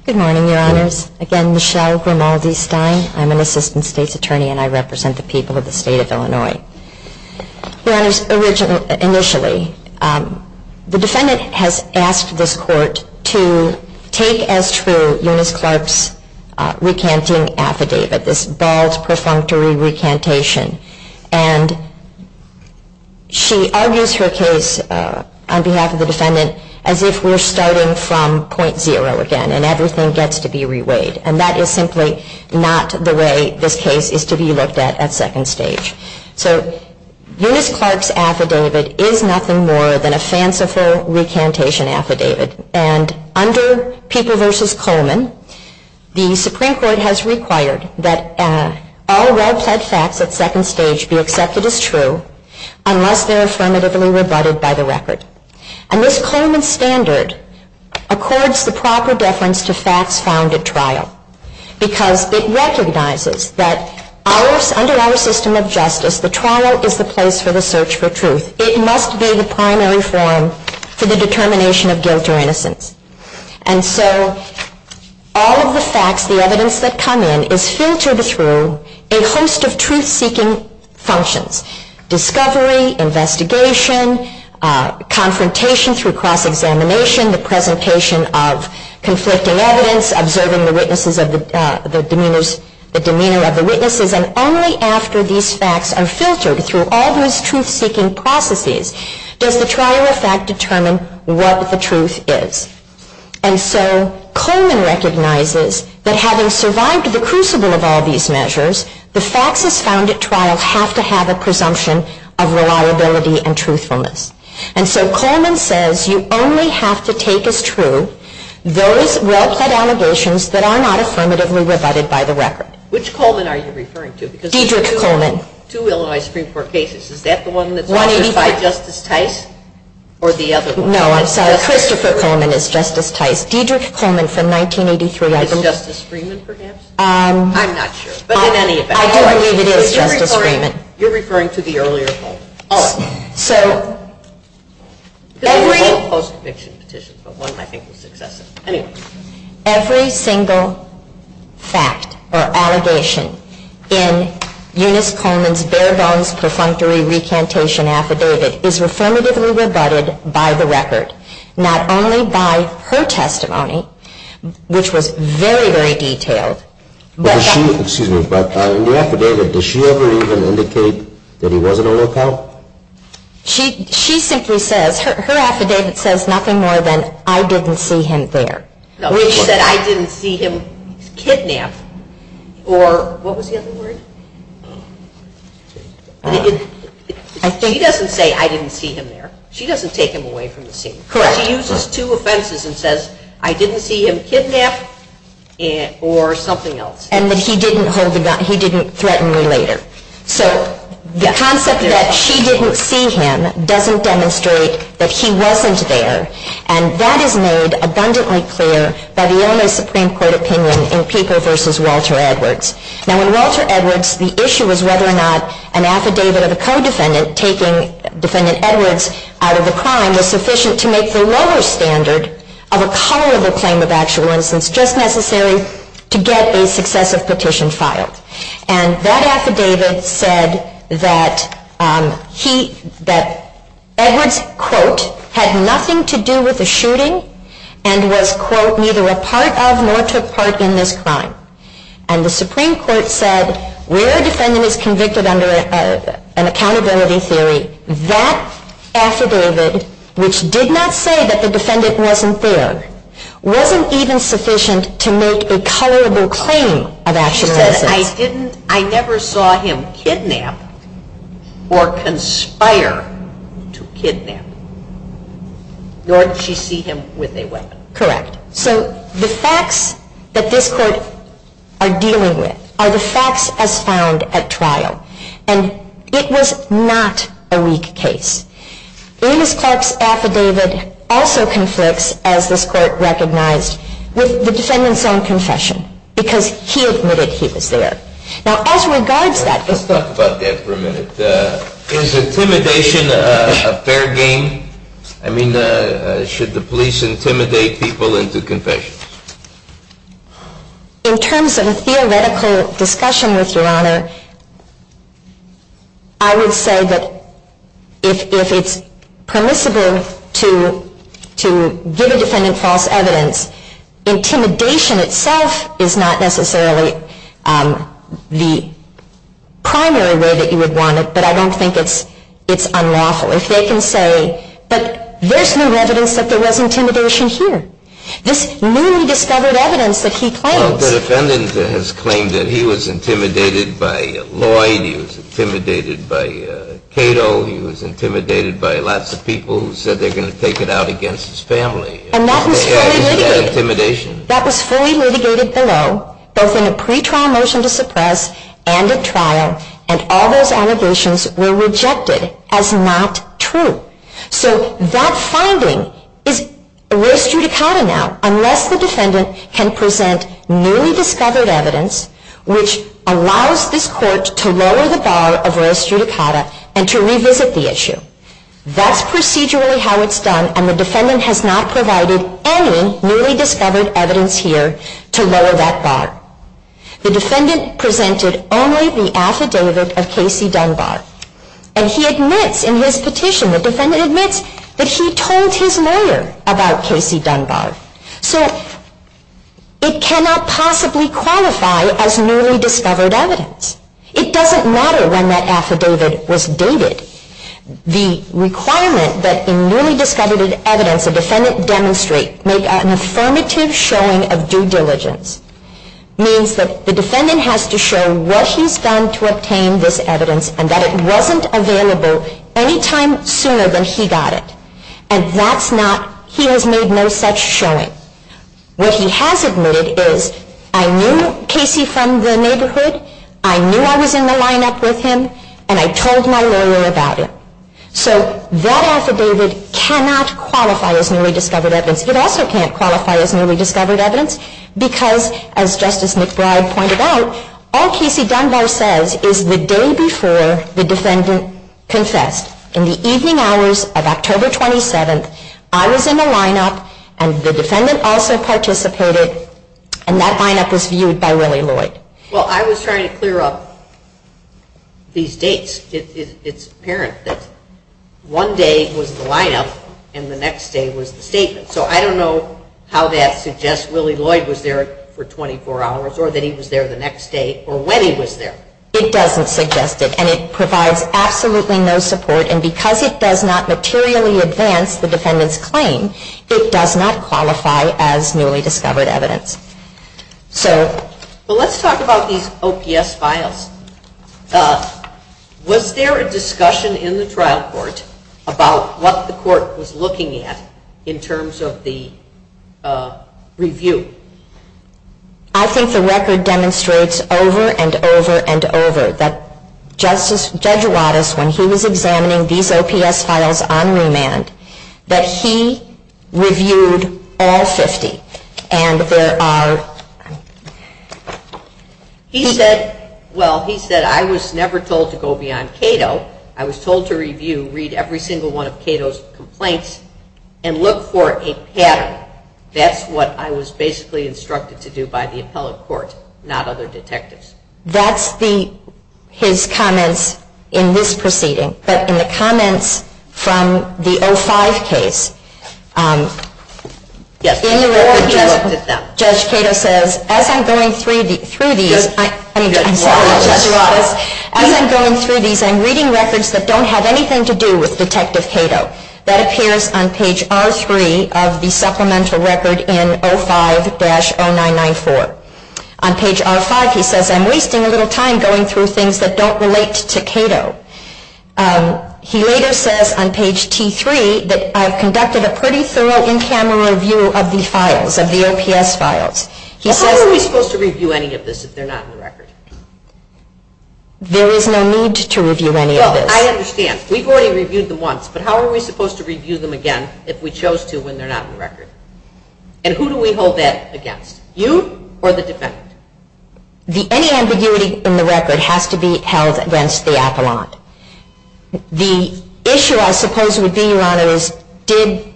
Good morning, your honors. Again, Michelle Grimaldi Stein. I'm an assistant state's attorney, and I represent the people of the state of Illinois. Your honors, initially, the defendant has asked this court to take as true Eunice Clark's recanting affidavit, this bald, perfunctory recantation, and she argues her case on behalf of the defendant as if we're starting from point zero again, and everything gets to be reweighed, and that is simply not the way this case is to be looked at at second stage. So, Eunice Clark's affidavit is nothing more than a fanciful recantation affidavit, and under People v. Coleman, the Supreme Court has required that all well-said facts at second stage be accepted as true unless they're affirmatively rebutted by the record. And this Coleman standard accords the proper deference to facts found at trial because it recognizes that under our system of justice, the trial is the place for the search for truth. It must be the primary form for the determination of guilt or innocence. And so, all of the facts, the evidence that come in, is filtered through a host of truth-seeking functions, discovery, investigation, confrontation through cross-examination, the presentation of conflicting evidence, observing the demeanor of the witnesses, and only after these facts are filtered through all those truth-seeking processes does the trial of a fact determine what the truth is. And so, Coleman recognizes that having survived the crucible of all these measures, the facts as found at trial have to have a presumption of reliability and truthfulness. And so, Coleman says you only have to take as true those well-said allegations that are not affirmatively rebutted by the record. Which Coleman are you referring to? D. George Coleman. Two Illinois Supreme Court cases. Is that the one that's justified Justice Tice or the other one? No, I said Christopher Coleman is Justice Tice. D. George Coleman from 1983, I believe. Is Justice Freeman, perhaps? I'm not sure, but in any event. I believe it is Justice Freeman. You're referring to the earlier one. All right. So, every single fact or allegation in Eunice Coleman's bare-bones prefrontal recantation affidavit is affirmatively rebutted by the record. Not only by her testimony, which was very, very detailed. Excuse me, but in the affidavit, does she ever even indicate that he wasn't a lookout? She simply says, her affidavit says nothing more than, I didn't see him there. Which said, I didn't see him kidnapped, or what was the other word? She doesn't say, I didn't see him there. She doesn't take him away from the scene. Correct. She uses two offenses and says, I didn't see him kidnapped, or something else. And that he didn't threaten her later. So, the concept that she didn't see him doesn't demonstrate that he wasn't there. And that is made abundantly clear by the Illinois Supreme Court opinion in Pico v. Walter Edwards. Now, in Walter Edwards, the issue was whether or not an affidavit of a co-defendant taking defendant Edwards out of the crime was sufficient to make the lower standard of a colorable claim of actual instance just necessary to get a successive petition filed. And that affidavit said that Edwards, quote, had nothing to do with the shooting and was, quote, neither a part of nor took part in this crime. And the Supreme Court said, where a defendant is convicted under an accountability theory, that affidavit, which did not say that the defendant wasn't there, wasn't even sufficient to make a colorable claim of actual instance. I never saw him kidnapped or conspire to kidnap, nor did she see him with a weapon. Correct. So the facts that this court are dealing with are the facts as found at trial. And it was not a weak case. Elizabeth Clark's affidavit also confirms, as this court recognized, with the defendant's own confession, because he admitted he was there. Now, as regards that... Let's talk about that for a minute. Is intimidation a fair game? I mean, should the police intimidate people into confession? In terms of a theoretical discussion with Your Honor, I would say that if it's permissible to give a defendant false evidence, intimidation itself is not necessarily the primary way that you would want it, but I don't think it's unlawful. As they can say, but there's no evidence that there was intimidation here. This newly discovered evidence that he claimed... The defendant has claimed that he was intimidated by Lloyd, he was intimidated by Cato, he was intimidated by lots of people who said they're going to take it out against his family. And that was fully mitigated. That was fully mitigated below, both in the pretrial motion to suppress and at trial, and all those allegations were rejected as not true. So that finding is res judicata now, unless the defendant can present newly discovered evidence, which allows this court to lower the bar of res judicata and to revisit the issue. That's procedurally how it's done, and the defendant has not provided any newly discovered evidence here to lower that bar. The defendant presented only the affidavit of Casey Dunbar, and he admits in his petition, the defendant admits, that he told his lawyer about Casey Dunbar. So it cannot possibly qualify as newly discovered evidence. It doesn't matter when that affidavit was dated. The requirement that in newly discovered evidence, that the defendant demonstrate, make an affirmative showing of due diligence, means that the defendant has to show what he's done to obtain this evidence, and that it wasn't available any time sooner than she got it. And that's not, he has made no such showing. What he has admitted is, I knew Casey from the neighborhood, I knew I was in the lineup with him, and I told my lawyer about it. So that affidavit cannot qualify as newly discovered evidence. It also can't qualify as newly discovered evidence, because, as Justice McBride pointed out, all Casey Dunbar says is the day before the defendant confessed. In the evening hours of October 27th, I was in the lineup, and the defendant also participated, and that lineup was viewed by Willie Lloyd. Well, I was trying to clear up these dates. It's apparent that one day was the lineup, and the next day was the statement. So I don't know how that suggests Willie Lloyd was there for 24 hours, or that he was there the next day, or when he was there. It doesn't suggest it, and it provides absolutely no support, and because it does not materially advance the defendant's claim, it does not qualify as newly discovered evidence. So let's talk about these OPS files. Was there a discussion in the trial court about what the court was looking at in terms of the review? I think the record demonstrates over and over and over that Judge Wattis, when he was examining these OPS files on remand, that he reviewed all 50, and there are... He said, well, he said, I was never told to go beyond Cato. I was told to review, read every single one of Cato's complaints, and look for a pattern. That's what I was basically instructed to do by the appellate court, not other detectives. That's his comments in this proceeding, but in the comments from the 05 case. In the record, Judge Cato says, as I'm going through these, I'm reading records that don't have anything to do with Detective Cato. That appears on page R3 of the supplemental record in 05-0994. On page R5, he says, I'm wasting a little time going through things that don't relate to Cato. He later says on page T3 that I've conducted a pretty thorough in-camera review of these files, of the OPS files. How are we supposed to review any of this if they're not in the record? There is no need to review any of this. I understand. We've already reviewed them once, but how are we supposed to review them again if we chose to when they're not in the record? And who do we hold that against? You or the defendant? Any ambiguity in the record has to be held against the appellant. The issue I suppose would be, Your Honor, is did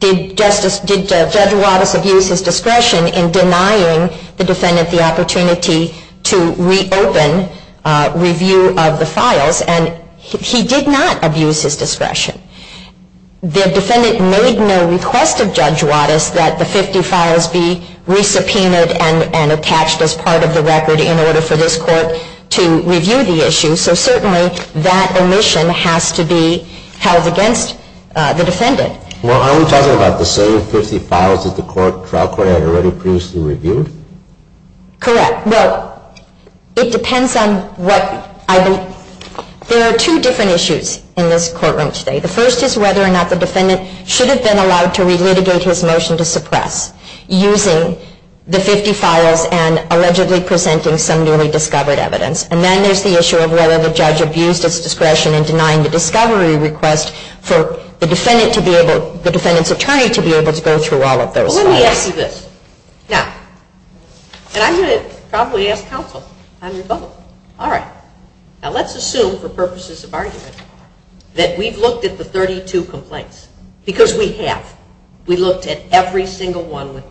Judge Juatis abuse his discretion in denying the defendant the opportunity to reopen review of the files, and he did not abuse his discretion. The defendant made no request to Judge Juatis that the 50 files be re-subpoenaed and attached as part of the record in order for this court to review the issue, so certainly that omission has to be held against the defendant. Well, aren't we talking about the same 50 files that the trial court had already previously reviewed? Correct. Well, it depends on what I believe. There are two different issues in this courtroom today. The first is whether or not the defendant should have been allowed to re-litigate his motion to suppress using the 50 files and allegedly presenting some newly discovered evidence. And then there's the issue of whether the judge abused his discretion in denying the discovery request for the defendant's attorney to be able to go through all of those files. Well, let me ask you this. Now, and I'm going to probably ask counsel. I'm going to vote. All right. Now, let's assume for purposes of argument that we've looked at the 32 complaints, because we have. We looked at every single one.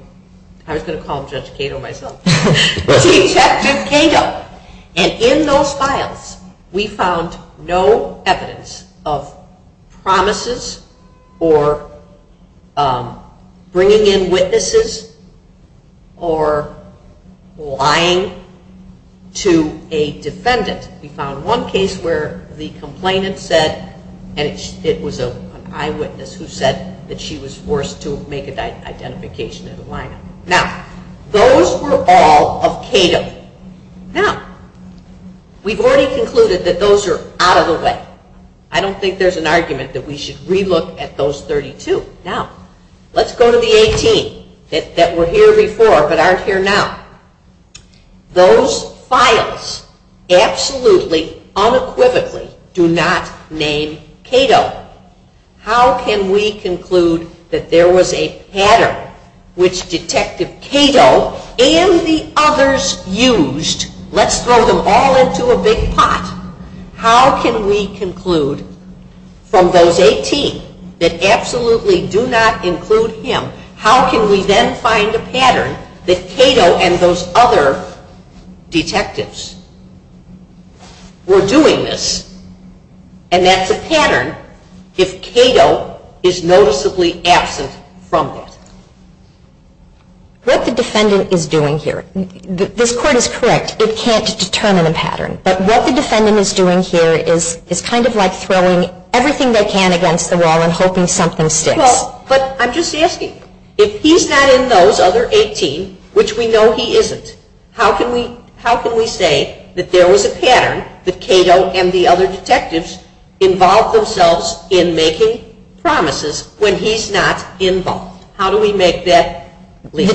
I'm going to call Judge Cato myself. Chief Justice Cato. And in those files, we found no evidence of promises or bringing in witnesses or lying to a defendant. We found one case where the complainant said, and it was an eyewitness who said that she was forced to make an identification as a liar. Now, those were all of Cato's. Now, we've already concluded that those are out of the way. I don't think there's an argument that we should relook at those 32. Now, let's go to the 18 that were here before but aren't here now. Those files absolutely, unequivocally do not name Cato. How can we conclude that there was a pattern which Detective Cato and the others used? Let's throw them all into a big pot. How can we conclude from those 18 that absolutely do not include him, how can we then find a pattern that Cato and those other detectives were doing this? And that's a pattern if Cato is noticeably absent from it. What the defendant is doing here, this court is correct, it can't determine a pattern. But what the defendant is doing here is kind of like throwing everything they can against the wall and hoping something sticks. But I'm just asking, if he's not in those other 18, which we know he isn't, how can we say that there was a pattern that Cato and the other detectives involved themselves in making promises when he's not involved? How do we make that clear? I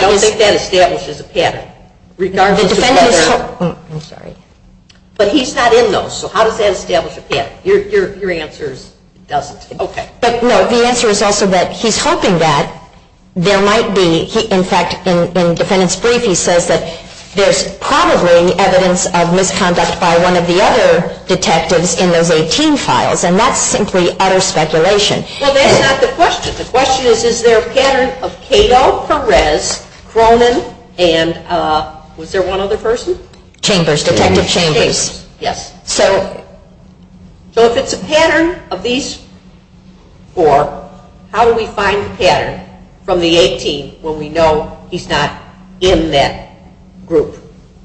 don't think that establishes a pattern. I'm sorry. But he's not in those, so how does that establish a pattern? Your answer doesn't. No, the answer is also that he's hoping that there might be, in fact, in defendant's brief he says that there's probably evidence of misconduct by one of the other detectives in those 18 files. And that's simply utter speculation. Well, that's not the question. The question is, is there a pattern of Cato, Perez, Cronin, and was there one other person? Chambers, Detective Chambers. Yes. So if it's a pattern of these four, how do we find the pattern from the 18 when we know he's not in that group?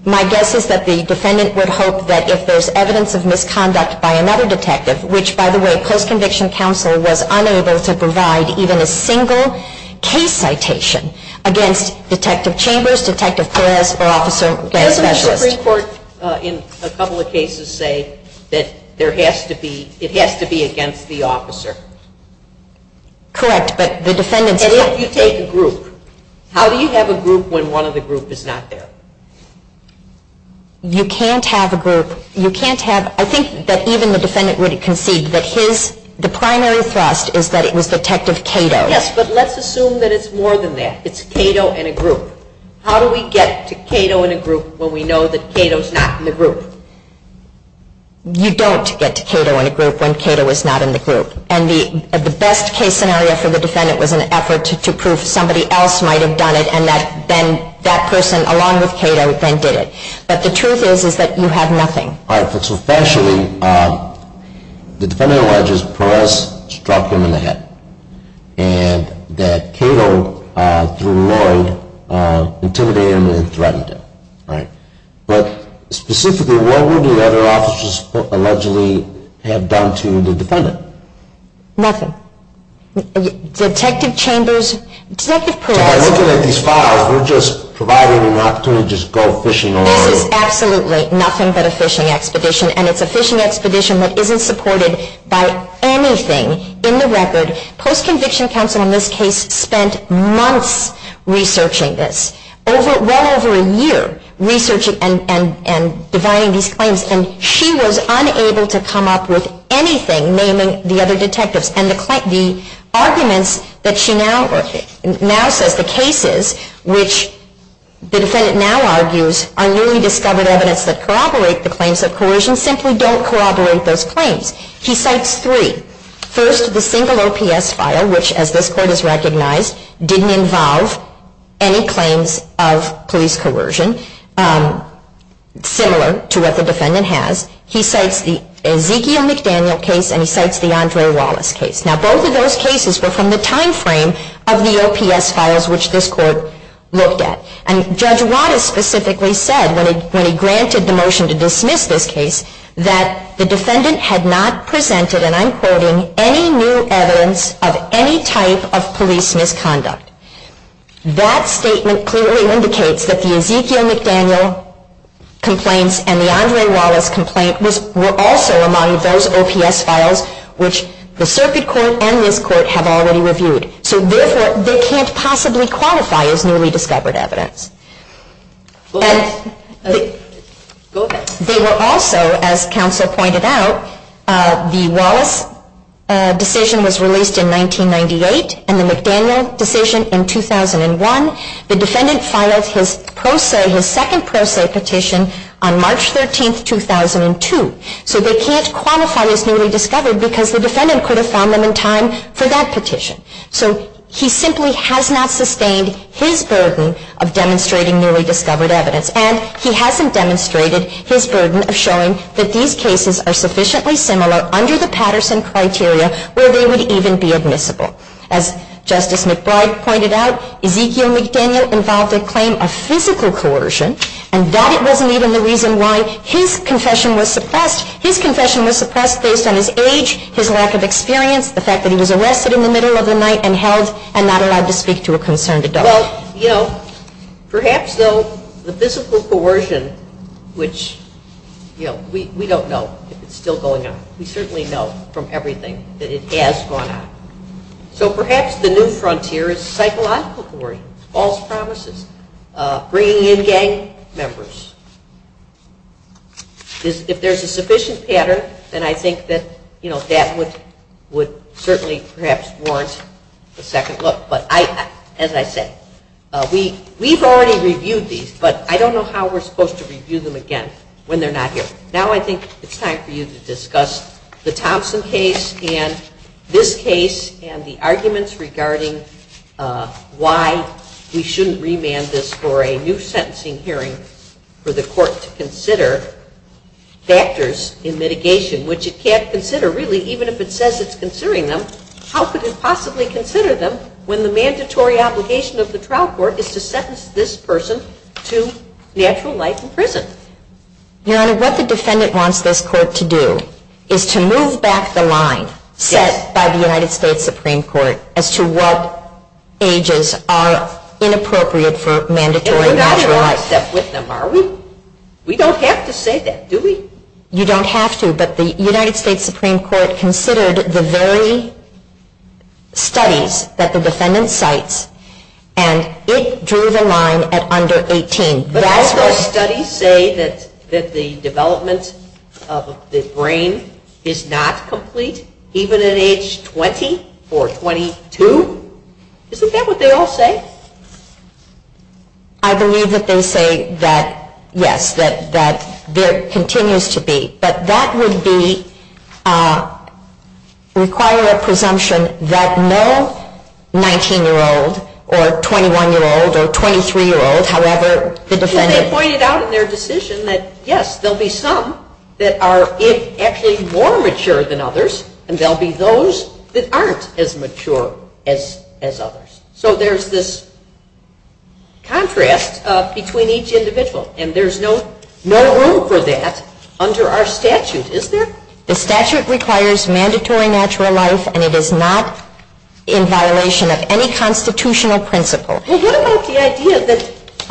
My guess is that the defendant would hope that if there's evidence of misconduct by another detective, which, by the way, the Post-Conviction Counsel was unable to provide even a single case citation against Detective Chambers, Detective Perez, or Officer Perez-Mesha. Doesn't the Supreme Court in a couple of cases say that it has to be against the officer? Correct, but the defendant doesn't. And if you say the group, how do you have a group when one of the group is not there? You can't have a group. I think that even the defendant would concede that the primary thrust is that it was Detective Cato. Yes, but let's assume that it's more than that. It's Cato and a group. How do we get to Cato and a group when we know that Cato's not in the group? You don't get to Cato and a group when Cato is not in the group. And the best case scenario for the defendant was an effort to prove somebody else might have done it and that person, along with Cato, then did it. But the truth is that you had nothing. All right. So, essentially, the defendant alleges Perez struck him in the head and that Cato, through reward, intimidated him and threatened him. All right. But specifically, what would the other officers allegedly have done to the defendant? Nothing. Detective Chambers, Detective Perez. We're just providing an opportunity to go fishing. Absolutely. Nothing but a fishing expedition, and it's a fishing expedition that isn't supported by anything in the record. Post-conviction counsel in this case spent months researching this, well over a year, researching and designing these claims, and she was unable to come up with anything, naming the other detectives. And the arguments that she now says, the cases which the defendant now argues, are newly discovered evidence that corroborate the claims of coercion, simply don't corroborate those claims. She cites three. First, the single OPS file, which, as this court has recognized, didn't involve any claims of police coercion, similar to what the defendant has. He cites the Ezekiel McDaniel case, and he cites the Andre Wallace case. Now, both of those cases were from the timeframe of the OPS files, which this court looked at. And Judge Waters specifically said, when he granted the motion to dismiss this case, that the defendant had not presented, and I'm quoting, any new evidence of any type of police misconduct. That statement clearly indicates that the Ezekiel McDaniel complaint and the Andre Wallace complaint were also among those OPS files, which the circuit court and this court have already reviewed. So therefore, they can't possibly qualify as newly discovered evidence. They were also, as counsel pointed out, the Wallace decision was released in 1998, and the McDaniel decision in 2001. The defendant filed his Pro Se, his second Pro Se petition, on March 13, 2002. So they can't qualify as newly discovered because the defendant could have found them in time for that petition. So he simply has not sustained his burden of demonstrating newly discovered evidence, and he hasn't demonstrated his burden of showing that these cases are sufficiently similar under the Patterson criteria where they would even be admissible. As Justice McBride pointed out, Ezekiel McDaniel involved a claim of physical coercion, and that wasn't even the reason why his confession was suppressed. His confession was suppressed based on his age, his lack of experience, the fact that he was arrested in the middle of the night and held, and not allowed to speak to a concerned adult. Well, you know, perhaps though the physical coercion, which, you know, we don't know if it's still going on. We certainly know from everything that it has gone on. So perhaps the new frontier is psychological coercion, false promises, bringing in gang members. If there's a sufficient pattern, then I think that, you know, that would certainly perhaps warrant a second look. But as I said, we've already reviewed these, but I don't know how we're supposed to review them again when they're not here. Now I think it's time for you to discuss the Thompson case and this case and the arguments regarding why we shouldn't remand this for a new sentencing hearing for the court to consider factors in mitigation, which it can't consider really, even if it says it's considering them. How could it possibly consider them when the mandatory obligation of the trial court is to sentence this person to natural life in prison? Your Honor, what the defendant wants this court to do is to move back the line set by the United States Supreme Court as to what ages are inappropriate for mandatory natural life. And we're not going to write that with them, are we? We don't have to say that, do we? You don't have to, but the United States Supreme Court considered the very studies that the defendant cites, and it drew the line at under 18. But I've heard studies say that the development of the brain is not complete, even at age 20 or 22. Isn't that what they all say? I believe that they say that, yes, that there continues to be. But that would require a presumption that no 19-year-old or 21-year-old or 23-year-old, however the defendant pointed out in their decision that, yes, there will be some that are actually more mature than others, and there will be those that aren't as mature as others. So there's this contrast between each individual, and there's no room for that under our statutes, is there? The statute requires mandatory natural life, and it is not in violation of any constitutional principles. Well, what about the idea that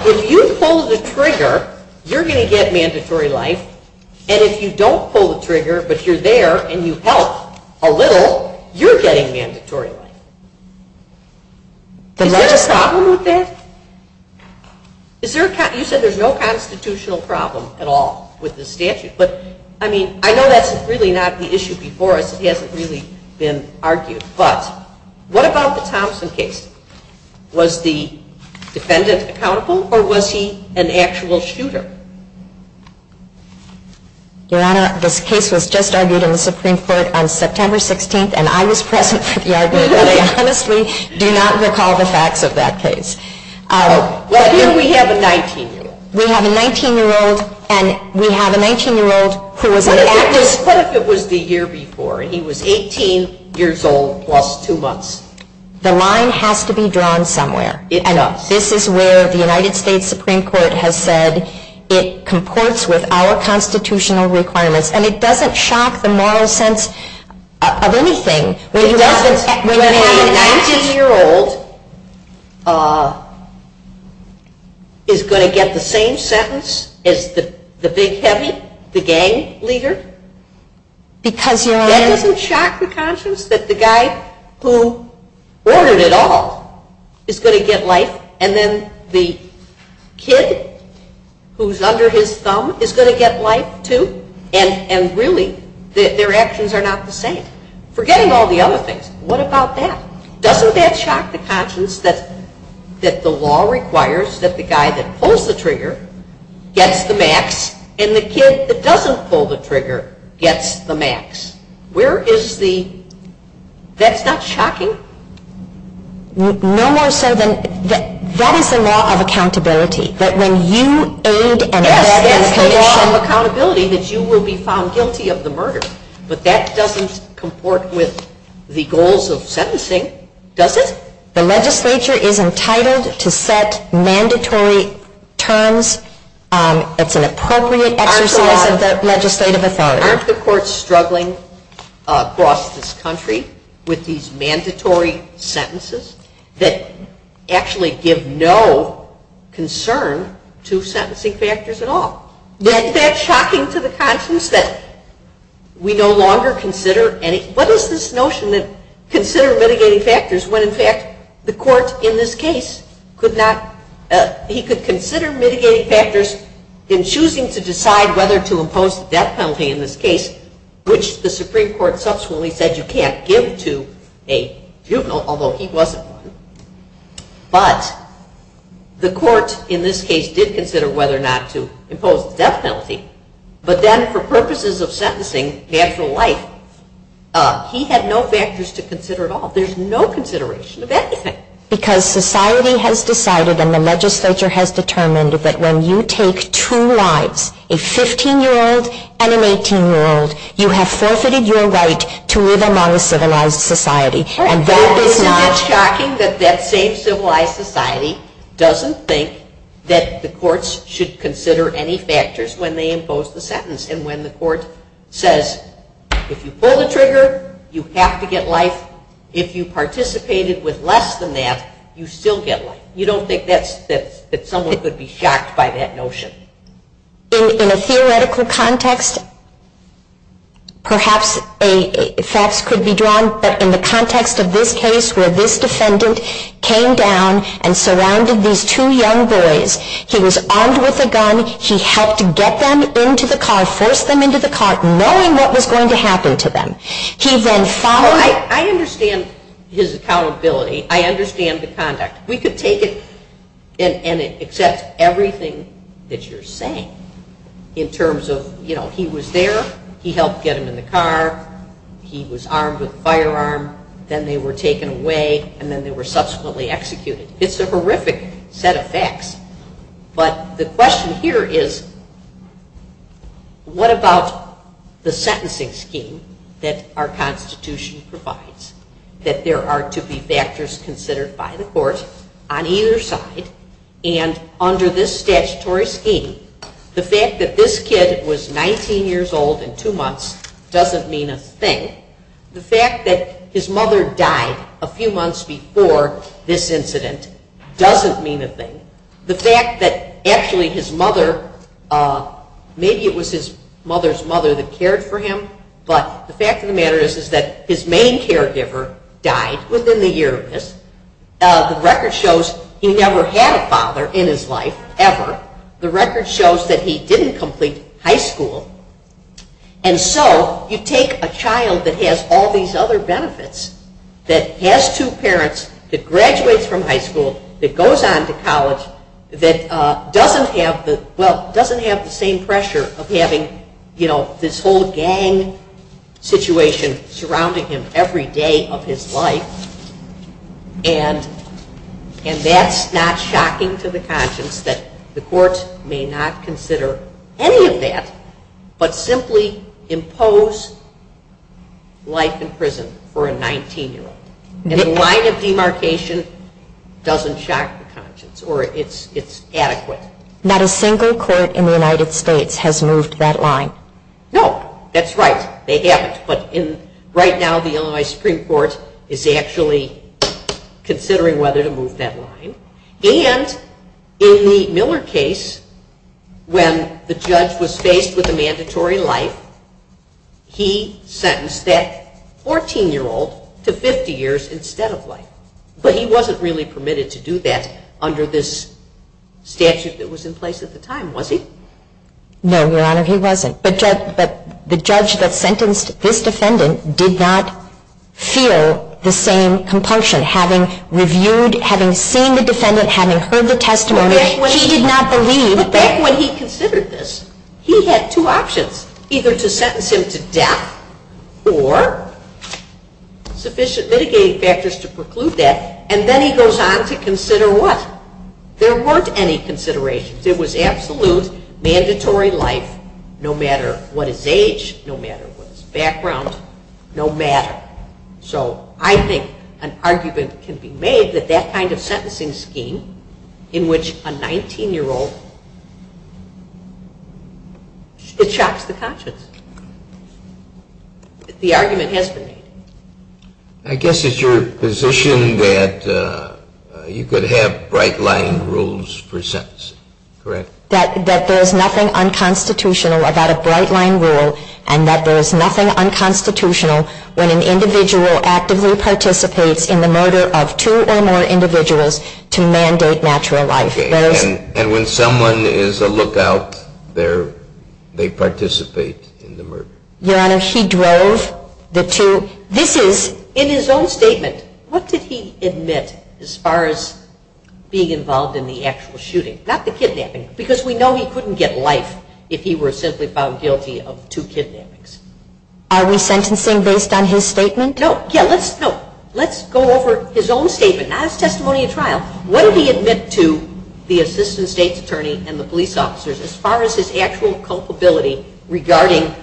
if you pull the trigger, you're going to get mandatory life, and if you don't pull the trigger, but you're there and you help a little, you're getting mandatory life? Is there a problem with that? You said there's no constitutional problem at all with the statute, but I mean, I know that's really not the issue before us. It hasn't really been argued. But what about the Thompson case? Was the defendant accountable, or was he an actual shooter? Your Honor, this case was just argued in the Supreme Court on September 16th, and I was present for the argument, but I honestly do not recall the facts of that case. Let's say we have a 19-year-old. We have a 19-year-old, and we have a 19-year-old who was an actual shooter. What if it was the year before, and he was 18 years old plus two months? The line has to be drawn somewhere. I know. This is where the United States Supreme Court has said it comports with our constitutional requirements, and it doesn't shock the moral sense of anything. When you have a 19-year-old is going to get the same sentence as the big heavy, the gang leader, that doesn't shock the conscience that the guy who ordered it all is going to get life, and then the kid who's under his thumb is going to get life too, and really their actions are not the same. Forget all the other things. What about that? Doesn't that shock the conscience that the law requires that the guy that pulls the trigger gets the max, and the kid that doesn't pull the trigger gets the max? Where is the—that's shocking. No one said then that that is a law of accountability, that when you earned an assessment of the law of accountability, that you will be found guilty of the murder, but that doesn't comport with the goals of sentencing, does it? The legislature is entitled to set mandatory terms. It's an appropriate exercise of the legislative authority. Aren't the courts struggling across this country with these mandatory sentences that actually give no concern to sentencing factors at all? Isn't that shocking to the conscience that we no longer consider any— that the court in this case could not—he could consider mitigating factors in choosing to decide whether to impose death penalty in this case, which the Supreme Court subsequently said you can't give to a juvenile, although he wasn't. But the court in this case did consider whether or not to impose death penalty, but then for purposes of sentencing, natural life, he had no factors to consider at all. There's no consideration of anything. Because society has decided and the legislature has determined that when you take two lives, a 15-year-old and an 18-year-old, you have forfeited your right to live among a civilized society. And that is not— It's shocking that that same civilized society doesn't think that the courts should consider any factors when they impose the sentence, and when the court says, if you pull the trigger, you have to get life. If you participated with less than that, you still get life. You don't think that someone could be shocked by that notion. In a theoretical context, perhaps facts could be drawn, but in the context of this case where this defendant came down and surrounded these two young boys, he was armed with a gun. He helped get them into the car, force them into the car, knowing what was going to happen to them. He then followed— I understand his accountability. I understand the conduct. We could take it and accept everything that you're saying in terms of, you know, he was there, he helped get them in the car, he was armed with a firearm, then they were taken away, and then they were subsequently executed. It's a horrific set of facts. But the question here is, what about the sentencing scheme that our Constitution provides, that there are to be factors considered by the courts on either side, and under this statutory scheme, the fact that this kid was 19 years old in two months doesn't mean a thing. The fact that his mother died a few months before this incident doesn't mean a thing. The fact that actually his mother, maybe it was his mother's mother that cared for him, but the fact of the matter is that his main caregiver died within the year of this. The record shows he never had a father in his life, ever. The record shows that he didn't complete high school. And so you take a child that has all these other benefits, that has two parents, that graduates from high school, that goes on to college, that doesn't have the, well, doesn't have the same pressure of having, you know, this whole gang situation surrounding him every day of his life, and that's not shocking to the conscience that the courts may not consider any of that, but simply impose life in prison for a 19-year-old. And a line of demarcation doesn't shock the conscience, or it's adequate. Not a single court in the United States has moved that line. No, that's right, they have. But right now the Illinois Supreme Court is actually considering whether to move that line. And in the Miller case, when the judge was faced with a mandatory life, he sentenced that 14-year-old to 50 years instead of life. But he wasn't really permitted to do that under this statute that was in place at the time, was he? No, Your Honor, he wasn't. But the judge that sentenced this defendant did not feel the same compulsion, having reviewed, having seen the defendant, having heard the testimony. Back when he considered this, he had two options, either to sentence him to death or sufficient mitigating factors to preclude that, and then he goes on to consider what? There weren't any considerations. It was absolute, mandatory life, no matter what his age, no matter what his background, no matter. So I think an argument can be made that that kind of sentencing scheme, in which a 19-year-old, it shocks the conscience. The argument has been made. I guess it's your position that you could have bright-line rules for sentencing, correct? That there's nothing unconstitutional about a bright-line rule, and that there's nothing unconstitutional when an individual actively participates in the murder of two or more individuals to mandate natural life. And when someone is a lookout, they participate in the murder. Your Honor, he drove the two. This is, in his own statement, what did he admit as far as being involved in the actual shooting? Not the kidnapping. Because we know he couldn't get life if he were simply found guilty of two kidnappings. Are we sentencing based on his statement? No. Let's go over his own statement, not his testimony in trial. What did he admit to the Assistant State's Attorney and the police officers as far as his actual culpability regarding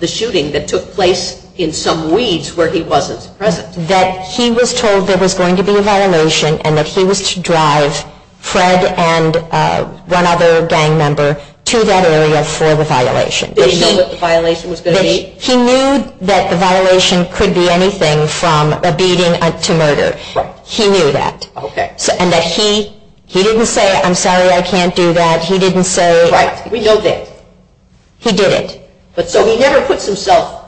the shooting that took place in some weeds where he was present? That he was told there was going to be a violation, and that he was to drive Fred and one other gang member to that area for the violation. Did he know what the violation was going to be? He knew that the violation could be anything from a beating to murder. He knew that. Okay. And that he didn't say, I'm sorry, I can't do that. He didn't say... Right. We know that. He didn't. So he never puts himself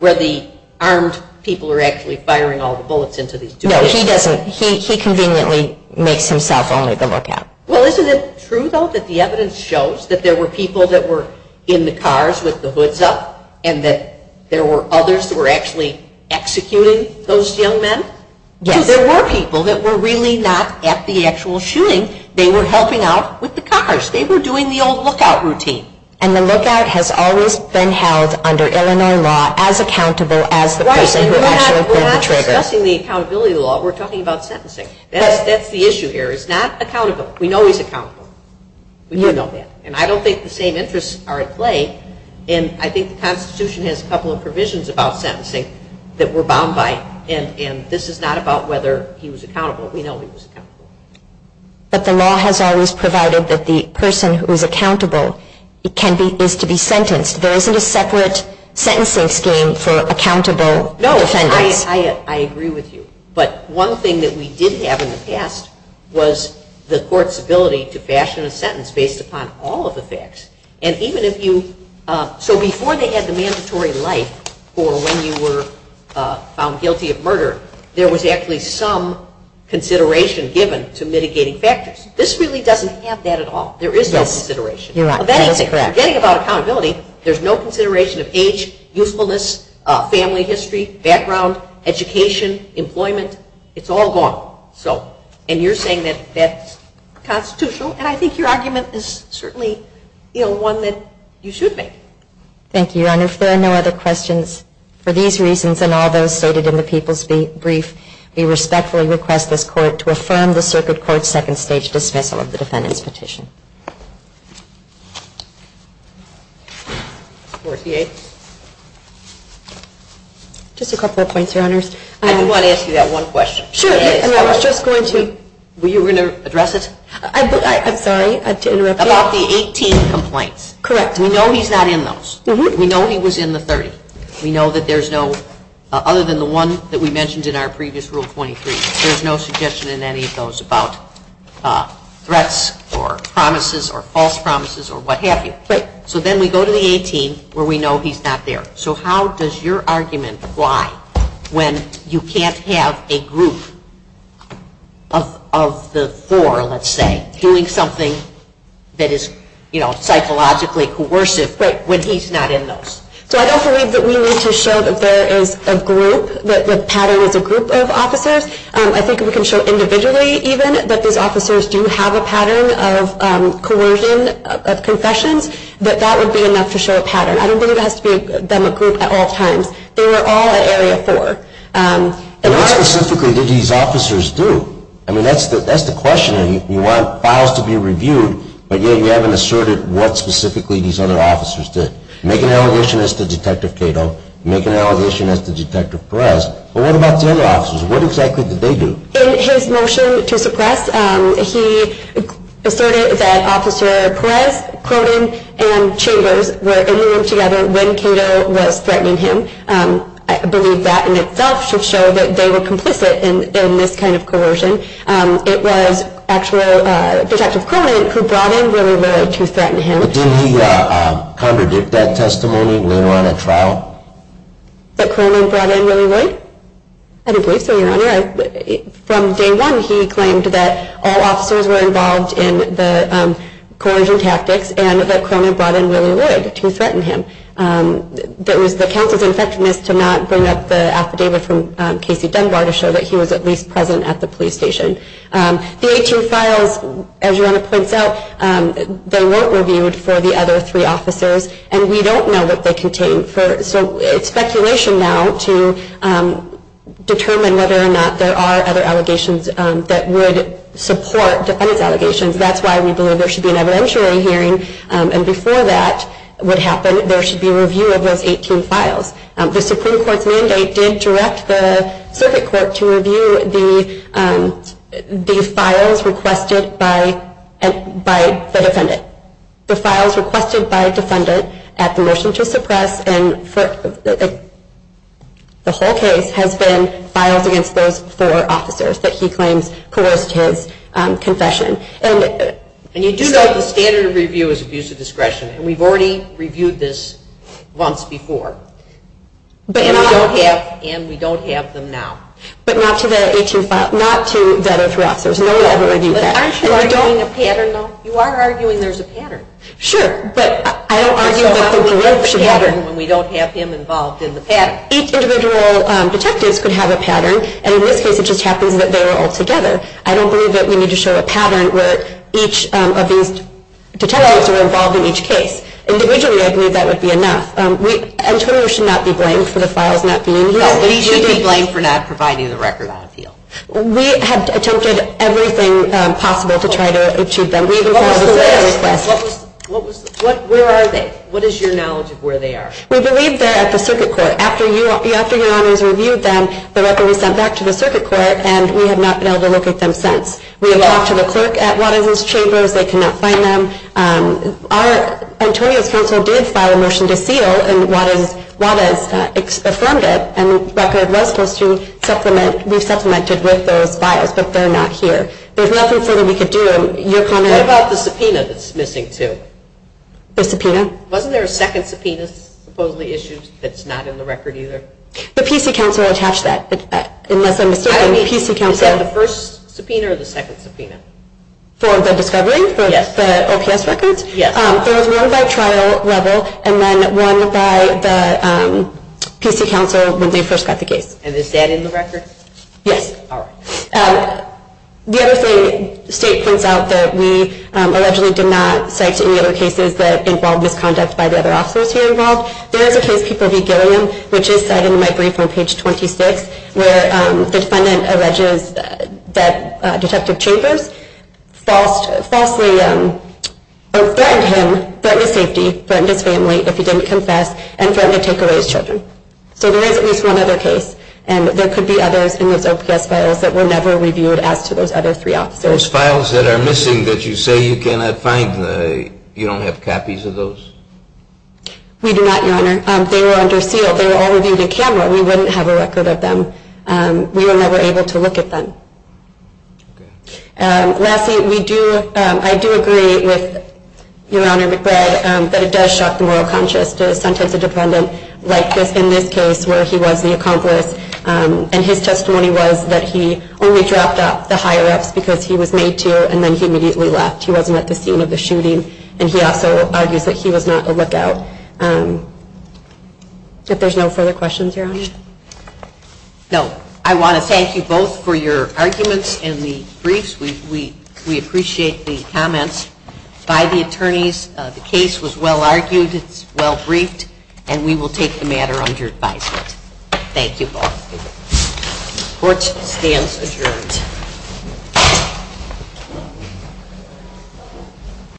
where the armed people are actually firing all the bullets into these two men. No, he doesn't. He conveniently makes himself only the lookout. Well, isn't it true, though, that the evidence shows that there were people that were in the cars with the hoods up, and that there were others that were actually executing those young men? Yes. Because there were people that were really not at the actual shooting. They were helping out with the cars. They were doing the old lookout routine. And the lookout has always been held under Illinois law as accountable as the person who actually fired the trigger. We're not discussing the accountability law. We're talking about sentencing. That's the issue here. It's not accountable. We know he's accountable. We know that. And I don't think the same interests are at play, and I think the Constitution has a couple of provisions about sentencing that we're bound by, and this is not about whether he was accountable. We know he was accountable. But the law has always provided that the person who is accountable is to be sentenced. There isn't a separate sentencing scheme for accountable offenders. No, I agree with you. But one thing that we did have in the past was the court's ability to fashion a sentence based upon all of the facts. And even if you – so before they had the mandatory life for when you were found guilty of murder, there was actually some consideration given to mitigating factors. This really doesn't have that at all. There is no consideration. You're right. That is correct. Forgetting about accountability, there's no consideration of age, usefulness, family history, background, education, employment. It's all gone. And you're saying that that's constitutional, and I think your argument is certainly one that you should make. Thank you. Your Honor, if there are no other questions, for these reasons and all those stated in the people's brief, we respectfully request this court to affirm the Circuit Court's second stage dismissal of the defendant's petition. Just a couple of points, Your Honors. I do want to ask you that one question. Sure. I was just going to – were you going to address it? I'm sorry to interrupt you. About the 18th complaint. Correct. We know he's not in those. We know he was in the 30th. We know that there's no – other than the one that we mentioned in our previous Rule 23, there's no suggestion in any of those about threats or promises or false promises or what have you. So then we go to the 18th where we know he's not there. So how does your argument apply when you can't have a group of the four, let's say, doing something that is, you know, psychologically coercive when he's not in those? So I don't believe that we need to show that there is a group, that the pattern is a group of officers. I think we can show individually even that those officers do have a pattern of coercion, of concession, but that would be enough to show a pattern. I don't think it has to be them a group at all times. They were all in Area 4. And what specifically did these officers do? I mean, that's the question. You want files to be reviewed, but yet you haven't asserted what specifically these other officers did. Make an allegation as to Detective Cato. Make an allegation as to Detective Perez. But what about their officers? What exactly did they do? In his motion to suppress, he asserted that Officer Perez, Croton, and Chambers were in the room together when Cato was threatening him. I believe that in itself should show that they were complicit in this kind of coercion. It was actually Detective Cronin who brought in Willie Wood to threaten him. But didn't he contradict that testimony when they were on a trial? That Cronin brought in Willie Wood? I don't believe so, Your Honor. From day one, he claimed that all officers were involved in the coercion tactics and that Cronin brought in Willie Wood to threaten him. The counsel's infection is to not bring up the affidavit from Casey Dunbar to show that he was at least present at the police station. The 18 files, as Your Honor points out, they weren't reviewed for the other three officers, and we don't know what they contained. So it's speculation now to determine whether or not there are other allegations that would support defendant's allegations. That's why we believe there should be an evidentiary hearing, and before that would happen, there should be a review of those 18 files. The Supreme Court's mandate did direct the circuit court to review the files requested by the defendant. The files requested by defendant at the motion to suppress the whole case have been filed against those four officers that he claims coerced his confession. And you do know the standard of review is abuse of discretion, and we've already reviewed this once before. And we don't have them now. But not to that 18 file. Not to that 18 file. There's no way I would review that. You are arguing there's a pattern. Sure, but I don't argue about there being no pattern when we don't have him involved in the pattern. Each individual detective can have a pattern, and in this case it just happens that they're all together. I don't believe that we need to show a pattern where each of these detectives are involved in each case. Individually, I believe that would be enough. I'm sure you should not be blamed for the files not being reviewed. You should be blamed for not providing the record on appeal. We have attempted everything possible to try to achieve them. We've been trying to do our best. Where are they? What is your knowledge of where they are? We believe they're at the circuit court. After your armies reviewed them, the record was sent back to the circuit court, and we have not been able to look at them since. We have talked to the clerk at Waterloo's Chamber. They cannot find them. Antonio Franco did file a motion to seal, and Waterloo expressed wonder, and the record was supposed to be supplemented with those files, but they're not here. There's nothing further we could do. What about the subpoena that's missing, too? The subpoena? Wasn't there a second subpoena, supposedly issued, that's not in the record either? The PC Council attached that. It's back. Unless I'm mistaken, the PC Council... Is that the first subpoena or the second subpoena? For the discovery? Yes. For the offense record? Yes. It was run by trial level, and then run by the PC Council when they first got the case. And is that in the record? Yes. All right. The other thing, the state turns out that we allegedly did not cite any other cases that involved misconduct by the other officers who were involved. There is a case, people be daring, which is cited in my brief on page 26, where the defendant alleges that detective Chambers falsely threatened him, threatened safety, threatened to claim rape if he didn't confess, and threatened to take away his children. So there is at least one other case, and there could be others in those OPS files that were never reviewed after those other three officers. Those files that are missing that you say you cannot find, you don't have copies of those? We do not, Your Honor. They were under seal. They were always using a camera. We wouldn't have a record of them. We were never able to look at them. Okay. Lastly, we do, I do agree with Your Honor McBride, that it does shock the moral conscience to sometimes a defendant like this, in this case, where he was the accomplice, and his testimony was that he only dropped off the higher ups because he was made to, and then he immediately left. He wasn't at the scene of the shooting, and he also argued that he was not the lookout. If there's no further questions, Your Honor. No. I want to thank you both for your arguments in the briefs. We appreciate the comments by the attorneys. The case was well argued. It's well briefed, and we will take the matter under advice. Thank you both. Court stands adjourned.